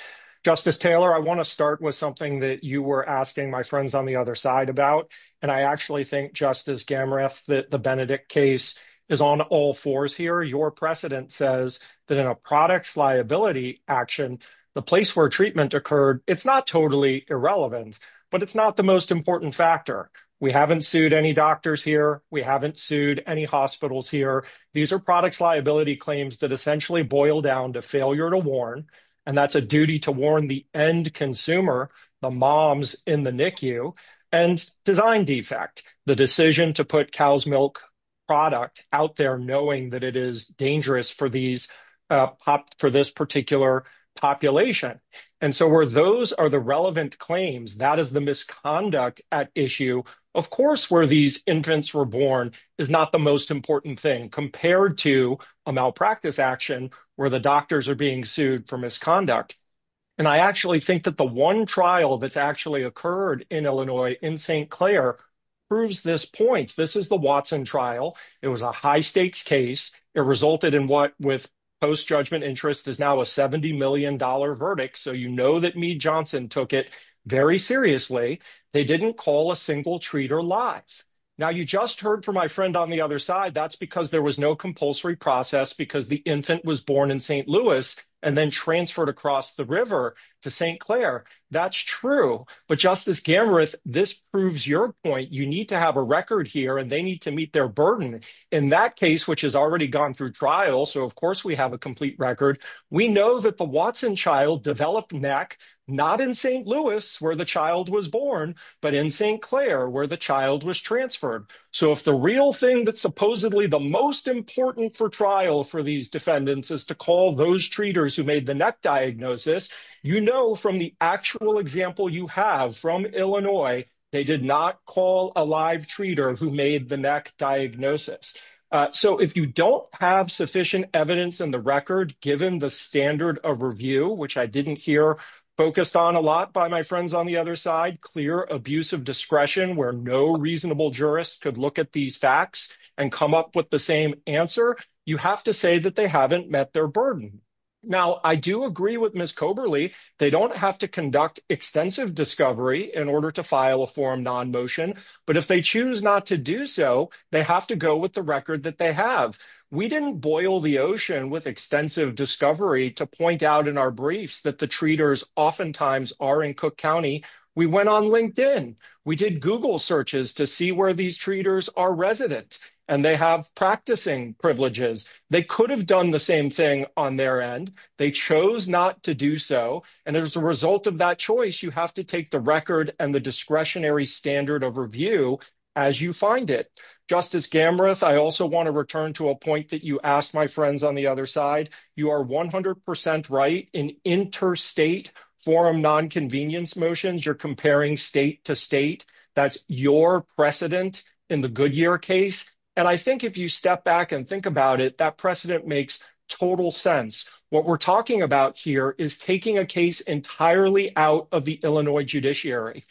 Justice Taylor, I want to start with something that you were asking my friends on the other side about. And I actually think, Justice Gamreath, that the Benedict case is on all fours here. Your precedent says that in a products liability action, the place where treatment occurred, it's not totally irrelevant. But it's not the most important factor. We haven't sued any doctors here. We haven't sued any hospitals here. These are products liability claims that essentially boil down to failure to warn. And that's a duty to warn the end consumer, the moms in the NICU. And design defect, the decision to put cow's milk product out there knowing that it is dangerous for this particular population. And so where those are the relevant claims, that is the misconduct at issue. Of course, where these infants were born is not the most important thing compared to a malpractice action where the doctors are being sued for misconduct. And I actually think that the one trial that's actually occurred in Illinois, in St. Clair, proves this point. This is the Watson trial. It was a high stakes case. It resulted in what, with post-judgment interest, is now a $70 million verdict. So you know that Meade Johnson took it very seriously. They didn't call a single treat or lie. Now, you just heard from my friend on the other side. That's because there was no compulsory process because the infant was born in St. Louis and then transferred across the river to St. Clair. That's true. But Justice Gamorath, this proves your point. You need to have a record here, and they need to meet their burden. In that case, which has already gone through trial, so of course we have a complete record. We know that the Watson child developed NEC not in St. Louis, where the child was born, but in St. Clair, where the child was transferred. So if the real thing that's supposedly the most important for trial for these defendants is to call those treaters who made the NEC diagnosis, you know from the actual example you have from Illinois, they did not call a live treater who made the NEC diagnosis. So if you don't have sufficient evidence in the record, given the standard of review, which I didn't hear focused on a lot by my friends on the other side, clear abuse of discretion where no reasonable jurist could look at these facts and come up with the same answer, you have to say that they haven't met their burden. Now, I do agree with Ms. Coberly. They don't have to conduct extensive discovery in order to file a form non-motion. But if they choose not to do so, they have to go with the record that they have. We didn't boil the ocean with extensive discovery to point out in our briefs that the treaters oftentimes are in Cook County. We went on LinkedIn. We did Google searches to see where these treaters are residents, and they have practicing privileges. They could have done the same thing on their end. They chose not to do so. And as a result of that choice, you have to take the record and the discretionary standard of review as you find it. Justice Gamrath, I also want to return to a point that you asked my friends on the other side. You are 100% right. In interstate forum nonconvenience motions, you're comparing state to state. That's your precedent in the Goodyear case. And I think if you step back and think about it, that precedent makes total sense. What we're talking about here is taking a case entirely out of the Illinois judiciary.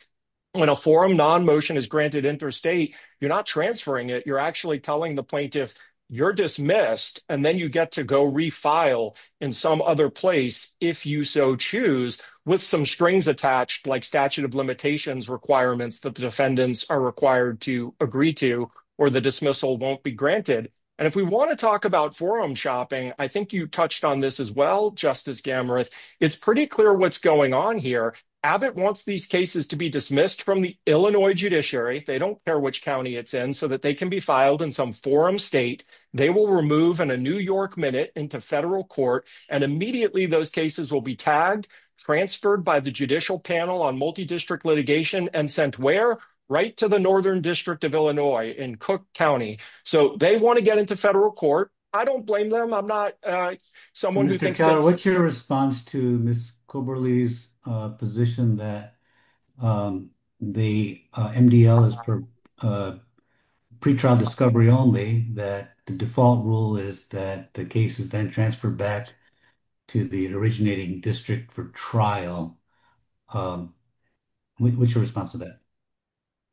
When a forum nonmotion is granted interstate, you're not transferring it. You're actually telling the plaintiff you're dismissed, and then you get to go refile in some other place, if you so choose, with some strings attached like statute of limitations requirements that the defendants are required to agree to or the dismissal won't be granted. And if we want to talk about forum shopping, I think you touched on this as well, Justice Gamrath. It's pretty clear what's going on here. Abbott wants these cases to be dismissed from the Illinois judiciary. They don't care which county it's in, so that they can be filed in some forum state. They will remove in a New York minute into federal court, and immediately those cases will be tagged, transferred by the Judicial Panel on Multidistrict Litigation, and sent where? Right to the Northern District of Illinois in Cook County. So they want to get into federal court. I don't blame them. I'm not someone who thinks that. What's your response to Ms. Koberly's position that the MDL is for pretrial discovery only, that the default rule is that the case is then transferred back to the originating district for trial? What's your response to that?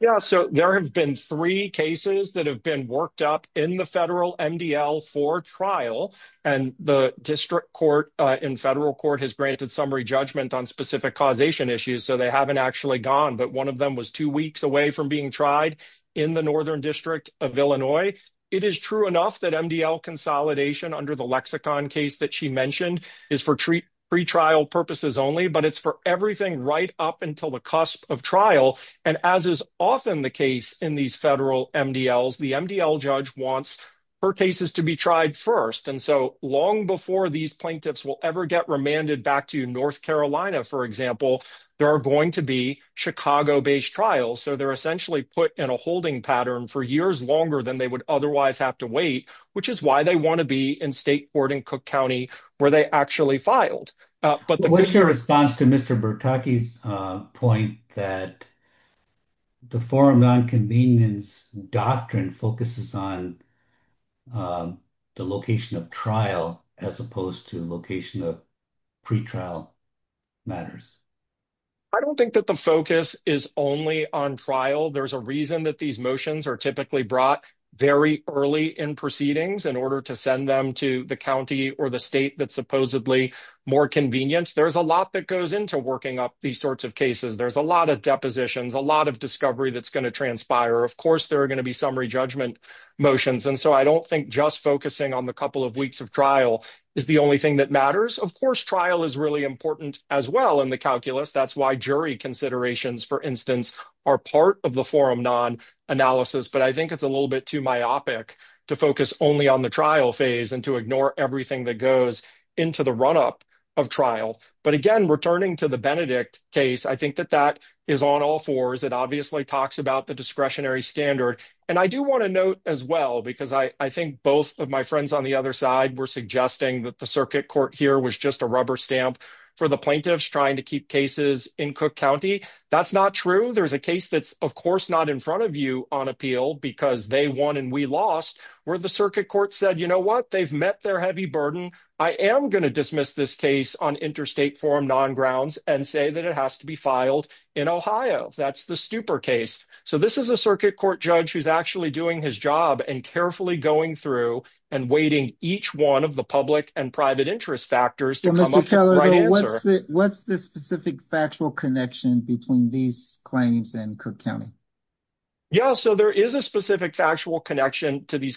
Yeah, so there have been three cases that have been worked up in the federal MDL for trial, and the district court in federal court has granted summary judgment on specific causation issues, so they haven't actually gone. But one of them was two weeks away from being tried in the Northern District of Illinois. It is true enough that MDL consolidation under the lexicon case that she mentioned is for pretrial purposes only, but it's for everything right up until the cusp of trial. And as is often the case in these federal MDLs, the MDL judge wants her cases to be tried first. And so long before these plaintiffs will ever get remanded back to North Carolina, for example, there are going to be Chicago-based trials. So they're essentially put in a holding pattern for years longer than they would otherwise have to wait, which is why they want to be in state court in Cook County where they actually filed. What's your response to Mr. Bertocchi's point that the foreign nonconvenience doctrine focuses on the location of trial as opposed to location of pretrial matters? I don't think that the focus is only on trial. There's a reason that these motions are typically brought very early in proceedings in order to send them to the county or the state that's supposedly more convenient. There's a lot that goes into working up these sorts of cases. There's a lot of depositions, a lot of discovery that's going to transpire. Of course, there are going to be summary judgment motions. And so I don't think just focusing on the couple of weeks of trial is the only thing that matters. Of course, trial is really important as well in the calculus. That's why jury considerations, for instance, are part of the forum non-analysis. But I think it's a little bit too myopic to focus only on the trial phase and to ignore everything that goes into the run-up of trial. But again, returning to the Benedict case, I think that that is on all fours. It obviously talks about the discretionary standard. And I do want to note as well, because I think both of my friends on the other side were suggesting that the circuit court here was just a rubber stamp for the plaintiffs trying to keep cases in Cook County. That's not true. There's a case that's, of course, not in front of you on appeal because they won and we lost where the circuit court said, you know what, they've met their heavy burden. I am going to dismiss this case on interstate forum non-grounds and say that it has to be filed in Ohio. That's the stupor case. So this is a circuit court judge who's actually doing his job and carefully going through and weighting each one of the public and private interest factors to come up with the right answer. Yeah, so there is a specific factual connection to these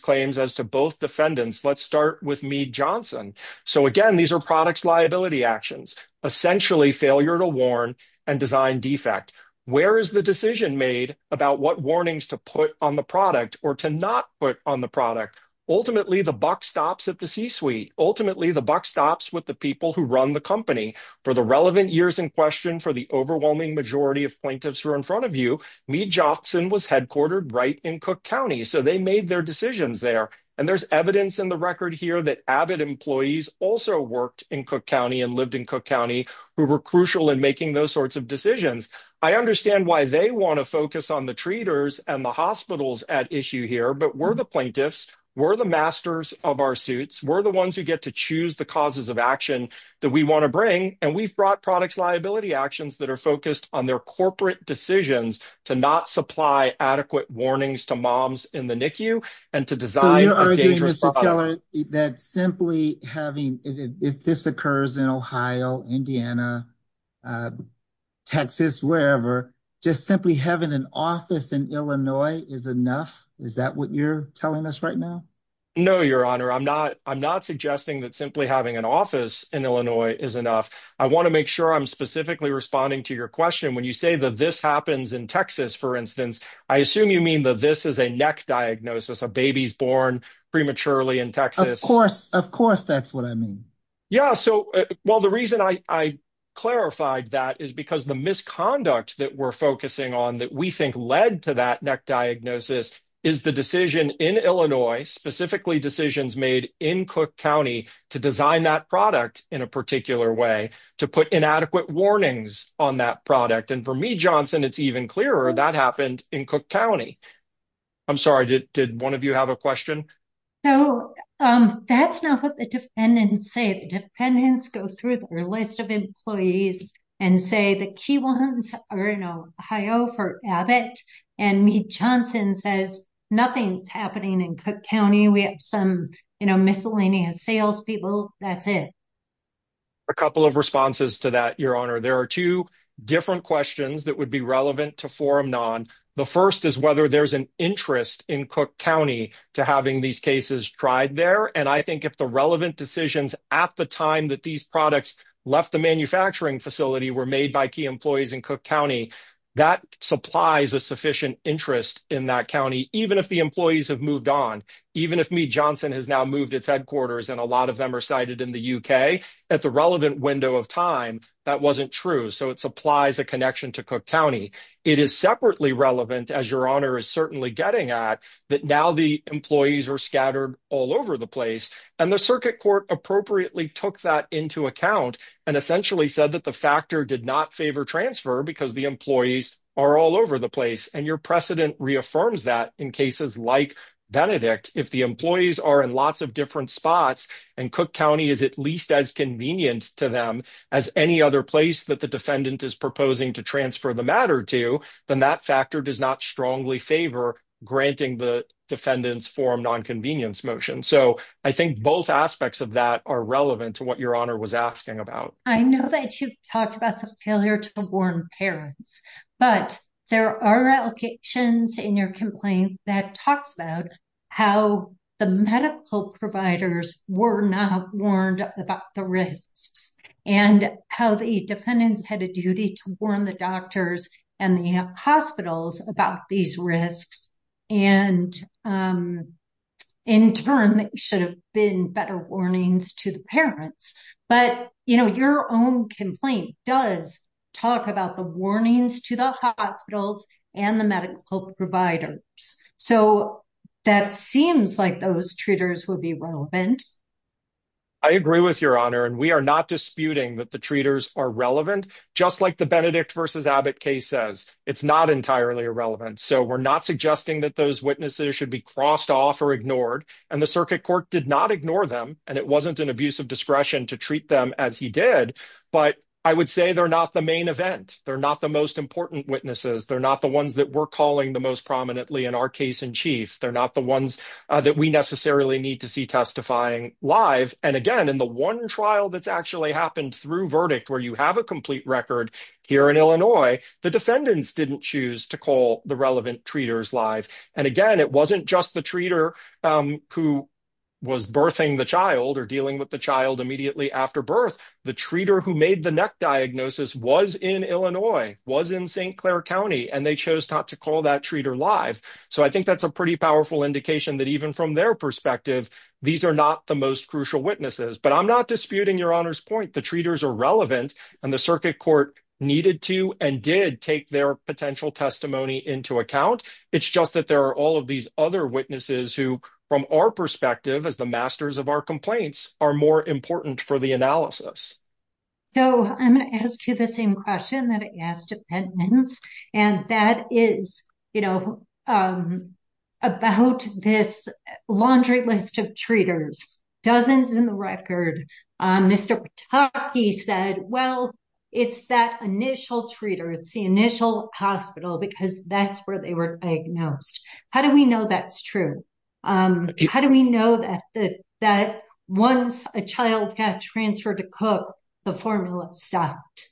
claims as to both defendants. Let's start with Meade Johnson. So again, these are products liability actions, essentially failure to warn and design defect. Where is the decision made about what warnings to put on the product or to not put on the product? Ultimately, the buck stops at the C-suite. Ultimately, the buck stops with the people who run the company. For the relevant years in question, for the overwhelming majority of plaintiffs who are in front of you, Meade Johnson was headquartered right in Cook County, so they made their decisions there. And there's evidence in the record here that AVID employees also worked in Cook County and lived in Cook County who were crucial in making those sorts of decisions. I understand why they want to focus on the treaters and the hospitals at issue here, but we're the plaintiffs. We're the masters of our suits. We're the ones who get to choose the causes of action that we want to bring, and we've brought products liability actions that are focused on their corporate decisions to not supply adequate warnings to moms in the NICU and to design a dangerous product. So you're arguing that simply having – if this occurs in Ohio, Indiana, Texas, wherever, just simply having an office in Illinois is enough? Is that what you're telling us right now? No, Your Honor. I'm not suggesting that simply having an office in Illinois is enough. I want to make sure I'm specifically responding to your question. When you say that this happens in Texas, for instance, I assume you mean that this is a neck diagnosis, a baby's born prematurely in Texas. Of course. Of course that's what I mean. Yeah. Well, the reason I clarified that is because the misconduct that we're focusing on that we think led to that neck diagnosis is the decision in Illinois, specifically decisions made in Cook County to design that product in a particular way, to put inadequate warnings on that product. And for me, Johnson, it's even clearer that happened in Cook County. I'm sorry. Did one of you have a question? No. That's not what the defendants say. The defendants go through their list of employees and say the key ones are in Ohio for Abbott. And Johnson says nothing's happening in Cook County. We have some miscellaneous salespeople. That's it. A couple of responses to that, Your Honor. There are two different questions that would be relevant to forum non. The first is whether there's an interest in Cook County to having these cases tried there. And I think if the relevant decisions at the time that these products left the manufacturing facility were made by key employees in Cook County, that supplies a sufficient interest in that county, even if the employees have moved on. Even if me, Johnson has now moved its headquarters and a lot of them are cited in the U.K. That's a relevant window of time. That wasn't true. So it supplies a connection to Cook County. It is separately relevant, as Your Honor is certainly getting at, that now the employees are scattered all over the place. And the circuit court appropriately took that into account and essentially said that the factor did not favor transfer because the employees are all over the place. And your precedent reaffirms that in cases like Benedict. If the employees are in lots of different spots and Cook County is at least as convenient to them as any other place that the defendant is proposing to transfer the matter to, then that factor does not strongly favor granting the defendant's forum nonconvenience motion. So I think both aspects of that are relevant to what Your Honor was asking about. I know that you've talked about the failure to warn parents. But there are applications in your complaint that talks about how the medical providers were not warned about the risks. And how the defendants had a duty to warn the doctors and the hospitals about these risks. And in turn, there should have been better warnings to the parents. But your own complaint does talk about the warnings to the hospitals and the medical providers. So that seems like those treaters will be relevant. I agree with Your Honor. And we are not disputing that the treaters are relevant, just like the Benedict versus Abbott case says. It's not entirely irrelevant. So we're not suggesting that those witnesses should be crossed off or ignored. And the circuit court did not ignore them. And it wasn't an abuse of discretion to treat them as he did. But I would say they're not the main event. They're not the most important witnesses. They're not the ones that we're calling the most prominently in our case in chief. They're not the ones that we necessarily need to see testifying live. And, again, in the one trial that's actually happened through verdict where you have a complete record here in Illinois, the defendants didn't choose to call the relevant treaters live. And, again, it wasn't just the treater who was birthing the child or dealing with the child immediately after birth. The treater who made the neck diagnosis was in Illinois, was in St. Clair County, and they chose not to call that treater live. So I think that's a pretty powerful indication that even from their perspective, these are not the most crucial witnesses. But I'm not disputing Your Honor's point. The treaters are relevant. And the circuit court needed to and did take their potential testimony into account. It's just that there are all of these other witnesses who, from our perspective as the masters of our complaints, are more important for the analysis. So I'm going to ask you the same question that I asked defendants, and that is, you know, about this laundry list of treaters. Dozens in the record. Mr. Pataki said, well, it's that initial treater, it's the initial hospital, because that's where they were diagnosed. How do we know that's true? How do we know that once a child has transferred to Cook, the formula stopped?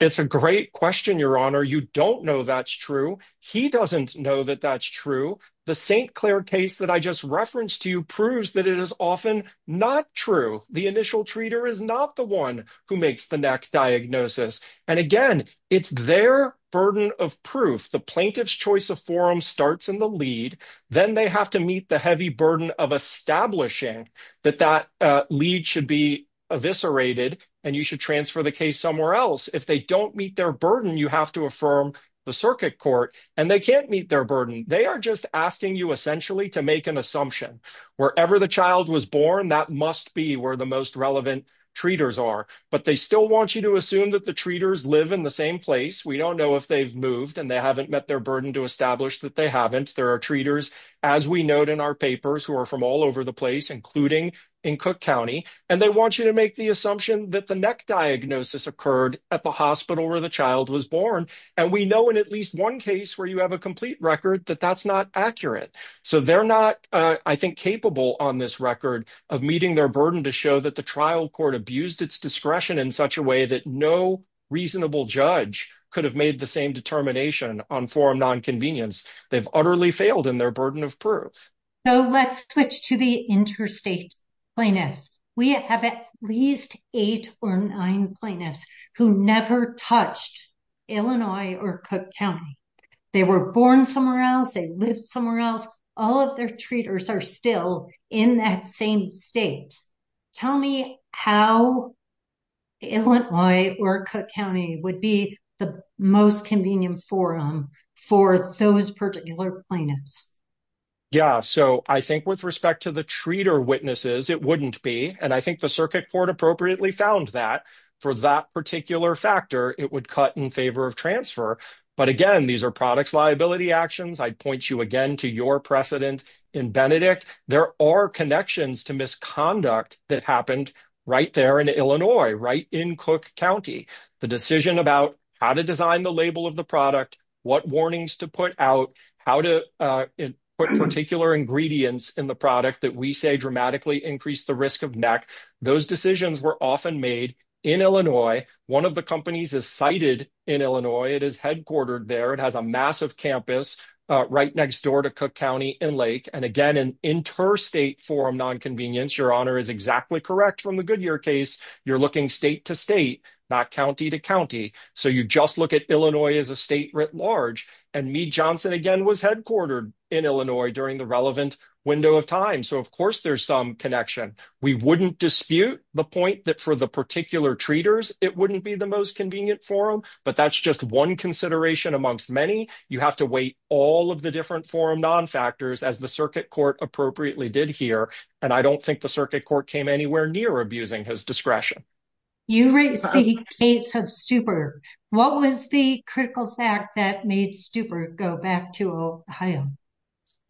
It's a great question, Your Honor. You don't know that's true. He doesn't know that that's true. The St. Clair case that I just referenced to you proves that it is often not true. The initial treater is not the one who makes the next diagnosis. And, again, it's their burden of proof. The plaintiff's choice of forum starts in the lead. Then they have to meet the heavy burden of establishing that that lead should be eviscerated and you should transfer the case somewhere else. If they don't meet their burden, you have to affirm the circuit court. And they can't meet their burden. They are just asking you essentially to make an assumption. Wherever the child was born, that must be where the most relevant treaters are. But they still want you to assume that the treaters live in the same place. We don't know if they've moved and they haven't met their burden to establish that they haven't. There are treaters, as we note in our papers, who are from all over the place, including in Cook County. And they want you to make the assumption that the next diagnosis occurred at the hospital where the child was born. And we know in at least one case where you have a complete record that that's not accurate. So they're not, I think, capable on this record of meeting their burden to show that the trial court abused its discretion in such a way that no reasonable judge could have made the same determination on forum nonconvenience. They've utterly failed in their burden of proof. So let's switch to the interstate plaintiffs. We have at least eight or nine plaintiffs who never touched Illinois or Cook County. They were born somewhere else. They live somewhere else. All of their treaters are still in that same state. Tell me how Illinois or Cook County would be the most convenient forum for those particular plaintiffs. Yeah, so I think with respect to the treater witnesses, it wouldn't be. And I think the circuit court appropriately found that for that particular factor, it would cut in favor of transfer. But again, these are products liability actions. I'd point you again to your precedent in Benedict. There are connections to misconduct that happened right there in Illinois, right in Cook County. The decision about how to design the label of the product, what warnings to put out, how to put particular ingredients in the product that we say dramatically increase the risk of neck. Those decisions were often made in Illinois. One of the companies is cited in Illinois. It is headquartered there. It has a massive campus right next door to Cook County in Lake. And again, an interstate forum nonconvenience. Your honor is exactly correct from the Goodyear case. You're looking state to state, not county to county. So you just look at Illinois as a state writ large. And me, Johnson, again, was headquartered in Illinois during the relevant window of time. So, of course, there's some connection. We wouldn't dispute the point that for the particular treaters, it wouldn't be the most convenient forum. But that's just one consideration amongst many. You have to wait all of the different forum nonfactors as the circuit court appropriately did here. And I don't think the circuit court came anywhere near abusing his discretion. You raised the case of Stupert. What was the critical fact that made Stupert go back to Ohio?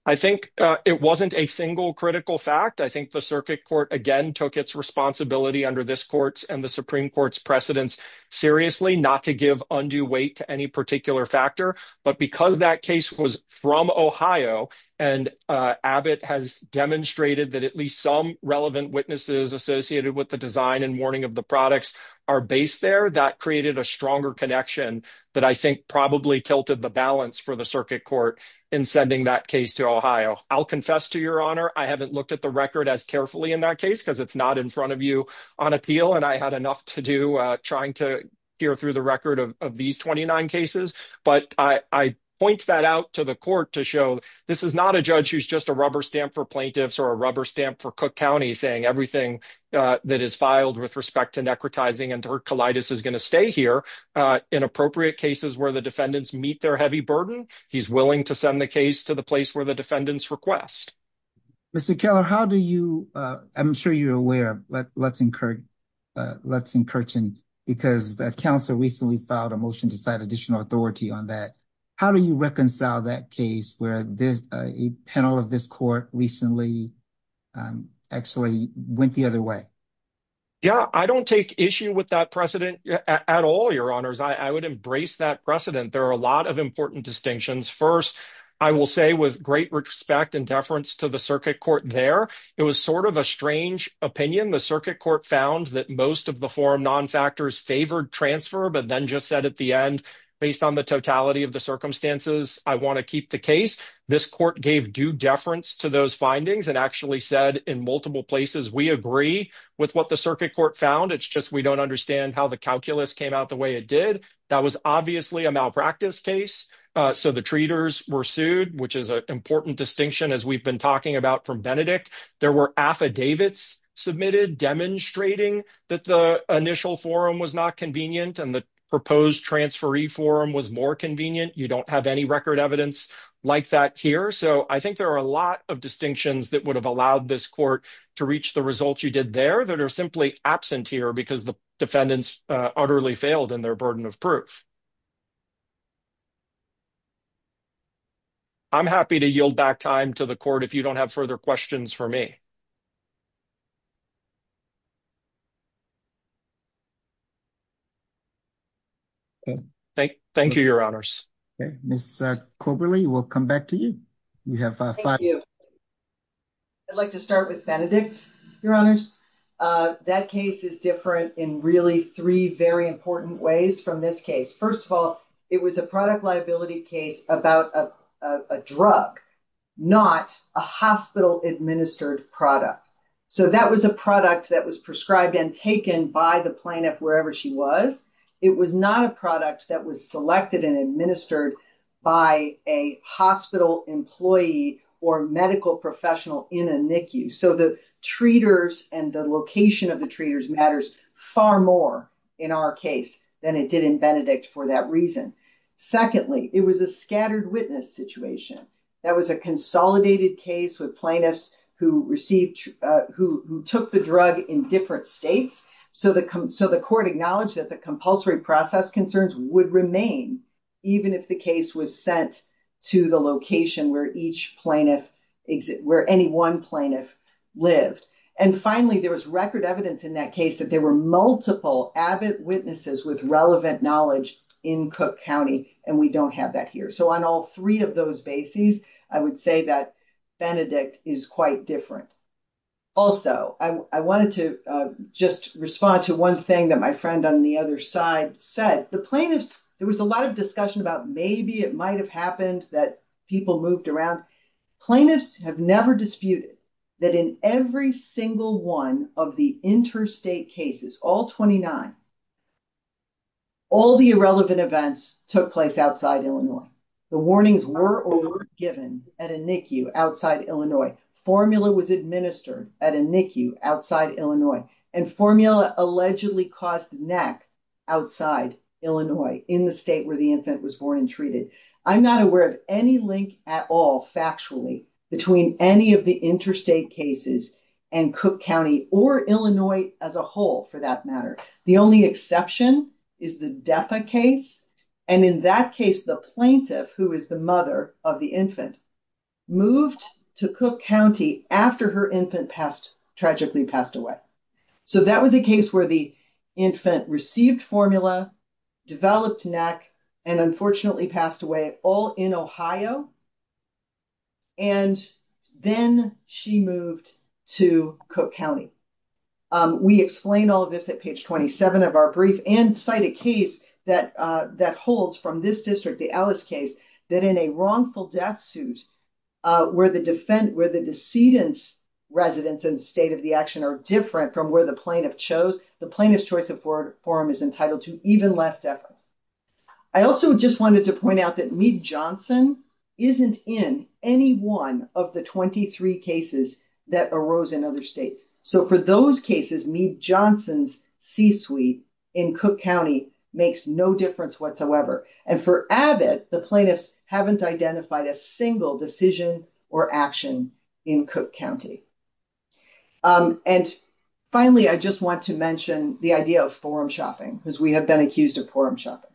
I think it wasn't a single critical fact. I think the circuit court, again, took its responsibility under this court's and the Supreme Court's precedence seriously not to give undue weight to any particular factor. But because that case was from Ohio and Abbott has demonstrated that at least some relevant witnesses associated with the design and warning of the products are based there, that created a stronger connection that I think probably tilted the balance for the circuit court in sending that case to Ohio. I'll confess to your honor, I haven't looked at the record as carefully in that case because it's not in front of you on appeal. And I had enough to do trying to hear through the record of these 29 cases. But I point that out to the court to show this is not a judge who's just a rubber stamp for plaintiffs or a rubber stamp for Cook County saying everything that is filed with respect to necrotizing and her colitis is going to stay here in appropriate cases where the defendants meet their heavy burden. He's willing to send the case to the place where the defendants request. Mr. Keller, how do you, I'm sure you're aware, but let's encourage. Let's encourage him, because the council recently filed a motion to set additional authority on that. How do you reconcile that case where this panel of this court recently actually went the other way? Yeah, I don't take issue with that precedent at all. Your honors, I would embrace that precedent. There are a lot of important distinctions. First, I will say with great respect and deference to the circuit court there, it was sort of a strange opinion. The circuit court found that most of the forum nonfactors favored transfer, but then just said at the end, based on the totality of the circumstances, I want to keep the case. This court gave due deference to those findings and actually said in multiple places, we agree with what the circuit court found. It's just we don't understand how the calculus came out the way it did. That was obviously a malpractice case. So the treaters were sued, which is an important distinction, as we've been talking about from Benedict. There were affidavits submitted demonstrating that the initial forum was not convenient and the proposed transferee forum was more convenient. You don't have any record evidence like that here. So I think there are a lot of distinctions that would have allowed this court to reach the results you did there that are simply absent here because the defendants utterly failed in their burden of proof. I'm happy to yield back time to the court if you don't have further questions for me. Thank you, your honors. Coberly, we'll come back to you. You have to start with Benedict, your honors. That case is different in really three very important ways from this case. First of all, it was a product liability case about a drug, not a hospital administered product. So that was a product that was prescribed and taken by the plaintiff wherever she was. It was not a product that was selected and administered by a hospital employee or medical professional in a NICU. So the treaters and the location of the treaters matters far more in our case than it did in Benedict for that reason. Secondly, it was a scattered witness situation. That was a consolidated case with plaintiffs who received, who took the drug in different states. So the court acknowledged that the compulsory process concerns would remain even if the case was sent to the location where each plaintiff, where any one plaintiff lived. And finally, there was record evidence in that case that there were multiple avid witnesses with relevant knowledge in Cook County and we don't have that here. So on all three of those bases, I would say that Benedict is quite different. Also, I wanted to just respond to one thing that my friend on the other side said. The plaintiffs, there was a lot of discussion about maybe it might have happened that people moved around. Plaintiffs have never disputed that in every single one of the interstate cases, all 29, all the irrelevant events took place outside Illinois. The warnings were over given at a NICU outside Illinois. Formula was administered at a NICU outside Illinois. And formula allegedly caused neck outside Illinois in the state where the infant was born and treated. I'm not aware of any link at all factually between any of the interstate cases and Cook County or Illinois as a whole for that matter. The only exception is the DEPA case. And in that case, the plaintiff, who is the mother of the infant, moved to Cook County after her infant tragically passed away. So that was a case where the infant received formula, developed neck, and unfortunately passed away all in Ohio. And then she moved to Cook County. We explain all of this at page 27 of our brief and cite a case that holds from this district, the Ellis case, that in a wrongful death suit, where the decedent's residence and state of the action are different from where the plaintiff chose, the plaintiff's choice of forum is entitled to even less effort. I also just wanted to point out that Meade-Johnson isn't in any one of the 23 cases that arose in other states. So for those cases, Meade-Johnson's C-suite in Cook County makes no difference whatsoever. And for Abbott, the plaintiffs haven't identified a single decision or action in Cook County. And finally, I just want to mention the idea of forum shopping, because we have been accused of forum shopping.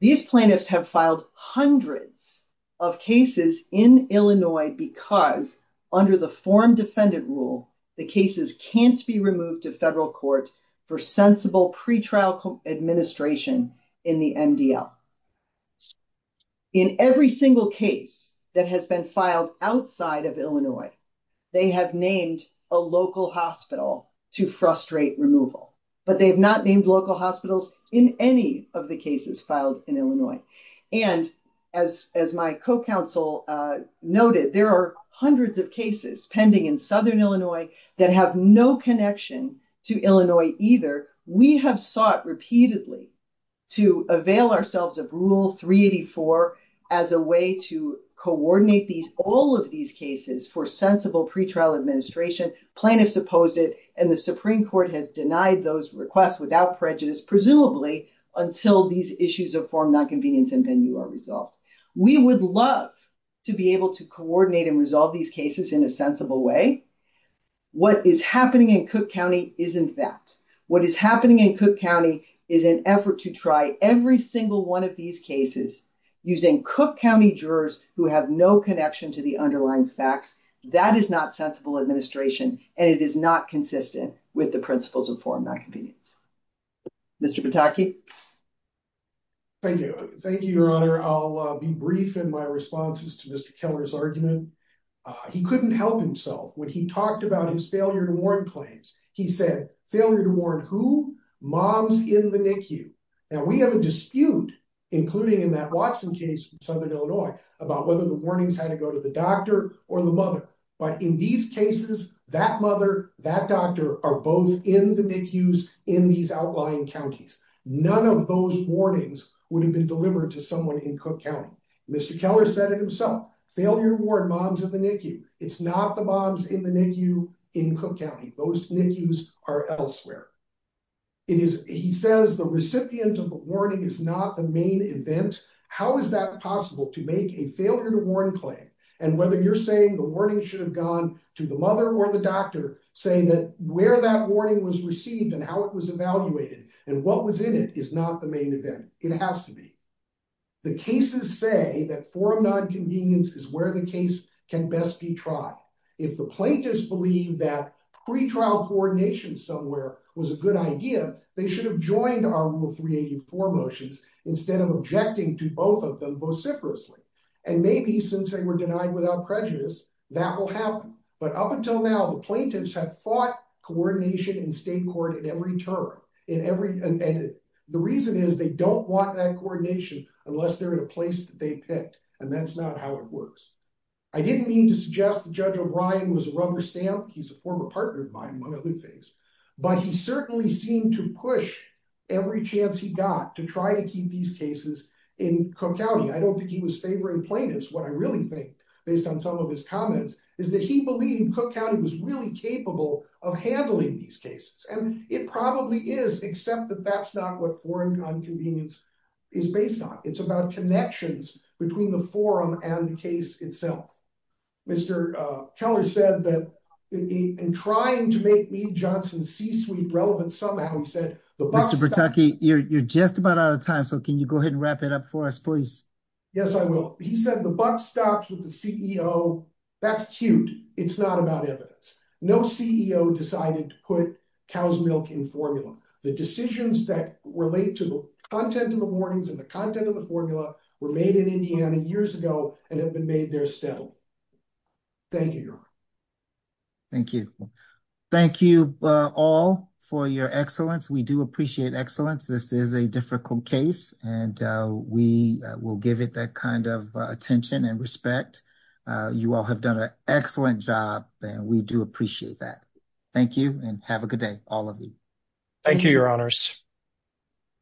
These plaintiffs have filed hundreds of cases in Illinois because under the forum defendant rule, the cases can't be removed to federal courts for sensible pretrial administration in the MDL. In every single case that has been filed outside of Illinois, they have named a local hospital to frustrate removal. But they have not named local hospitals in any of the cases filed in Illinois. And as my co-counsel noted, there are hundreds of cases pending in southern Illinois that have no connection to Illinois either. We have sought repeatedly to avail ourselves of Rule 384 as a way to coordinate all of these cases for sensible pretrial administration. Plaintiffs opposed it, and the Supreme Court has denied those requests without prejudice, presumably until these issues of forum nonconvenience and venue are resolved. We would love to be able to coordinate and resolve these cases in a sensible way. What is happening in Cook County is in fact. What is happening in Cook County is an effort to try every single one of these cases using Cook County jurors who have no connection to the underlying facts. That is not sensible administration, and it is not consistent with the principles of forum nonconvenience. Mr. Pataki? Thank you. Thank you, Your Honor. I'll be brief in my responses to Mr. Keller's argument. He couldn't help himself. When he talked about his failure to warn claims, he said, failure to warn who? Moms in the NICU. Now, we have a dispute, including in that Watson case in Southern Illinois, about whether the warnings had to go to the doctor or the mother. But in these cases, that mother, that doctor are both in the NICUs in these outlying counties. None of those warnings would have been delivered to someone in Cook County. Mr. Keller said it himself. Failure to warn moms in the NICU. It's not the moms in the NICU in Cook County. Those NICUs are elsewhere. He says the recipient of the warning is not the main event. How is that possible to make a failure to warn claim? And whether you're saying the warning should have gone to the mother or the doctor, saying that where that warning was received and how it was evaluated and what was in it is not the main event. It has to be. The cases say that forum nonconvenience is where the case can best be tried. If the plaintiffs believe that pre-trial coordination somewhere was a good idea, they should have joined our rule 384 motions instead of objecting to both of them vociferously. And maybe since they were denied without prejudice, that will happen. But up until now, the plaintiffs have fought coordination in state court in every term. And the reason is they don't want that coordination unless they're in a place that they picked. And that's not how it works. I didn't mean to suggest Judge O'Brien was a rubber stamp. He's a former partner of mine, one of his. But he certainly seemed to push every chance he got to try to keep these cases in Cook County. I don't think he was favoring plaintiffs. What I really think, based on some of his comments, is that he believed Cook County was really capable of handling these cases. And it probably is, except that that's not what forum nonconvenience is based on. It's about connections between the forum and the case itself. Mr. Keller said that in trying to make Lee Johnson's C-suite relevant somehow, he said the buck stops. Mr. Bertucchi, you're just about out of time, so can you go ahead and wrap that up for us, please? Yes, I will. He said the buck stops with the CEO. That's cute. It's not about evidence. No CEO decided to put cow's milk in formula. The decisions that relate to the content of the warnings and the content of the formula were made in Indiana years ago and have been made there still. Thank you, Your Honor. Thank you. Thank you all for your excellence. We do appreciate excellence. This is a difficult case, and we will give it that kind of attention and respect. You all have done an excellent job, and we do appreciate that. Thank you and have a good day, all of you. Thank you, Your Honors.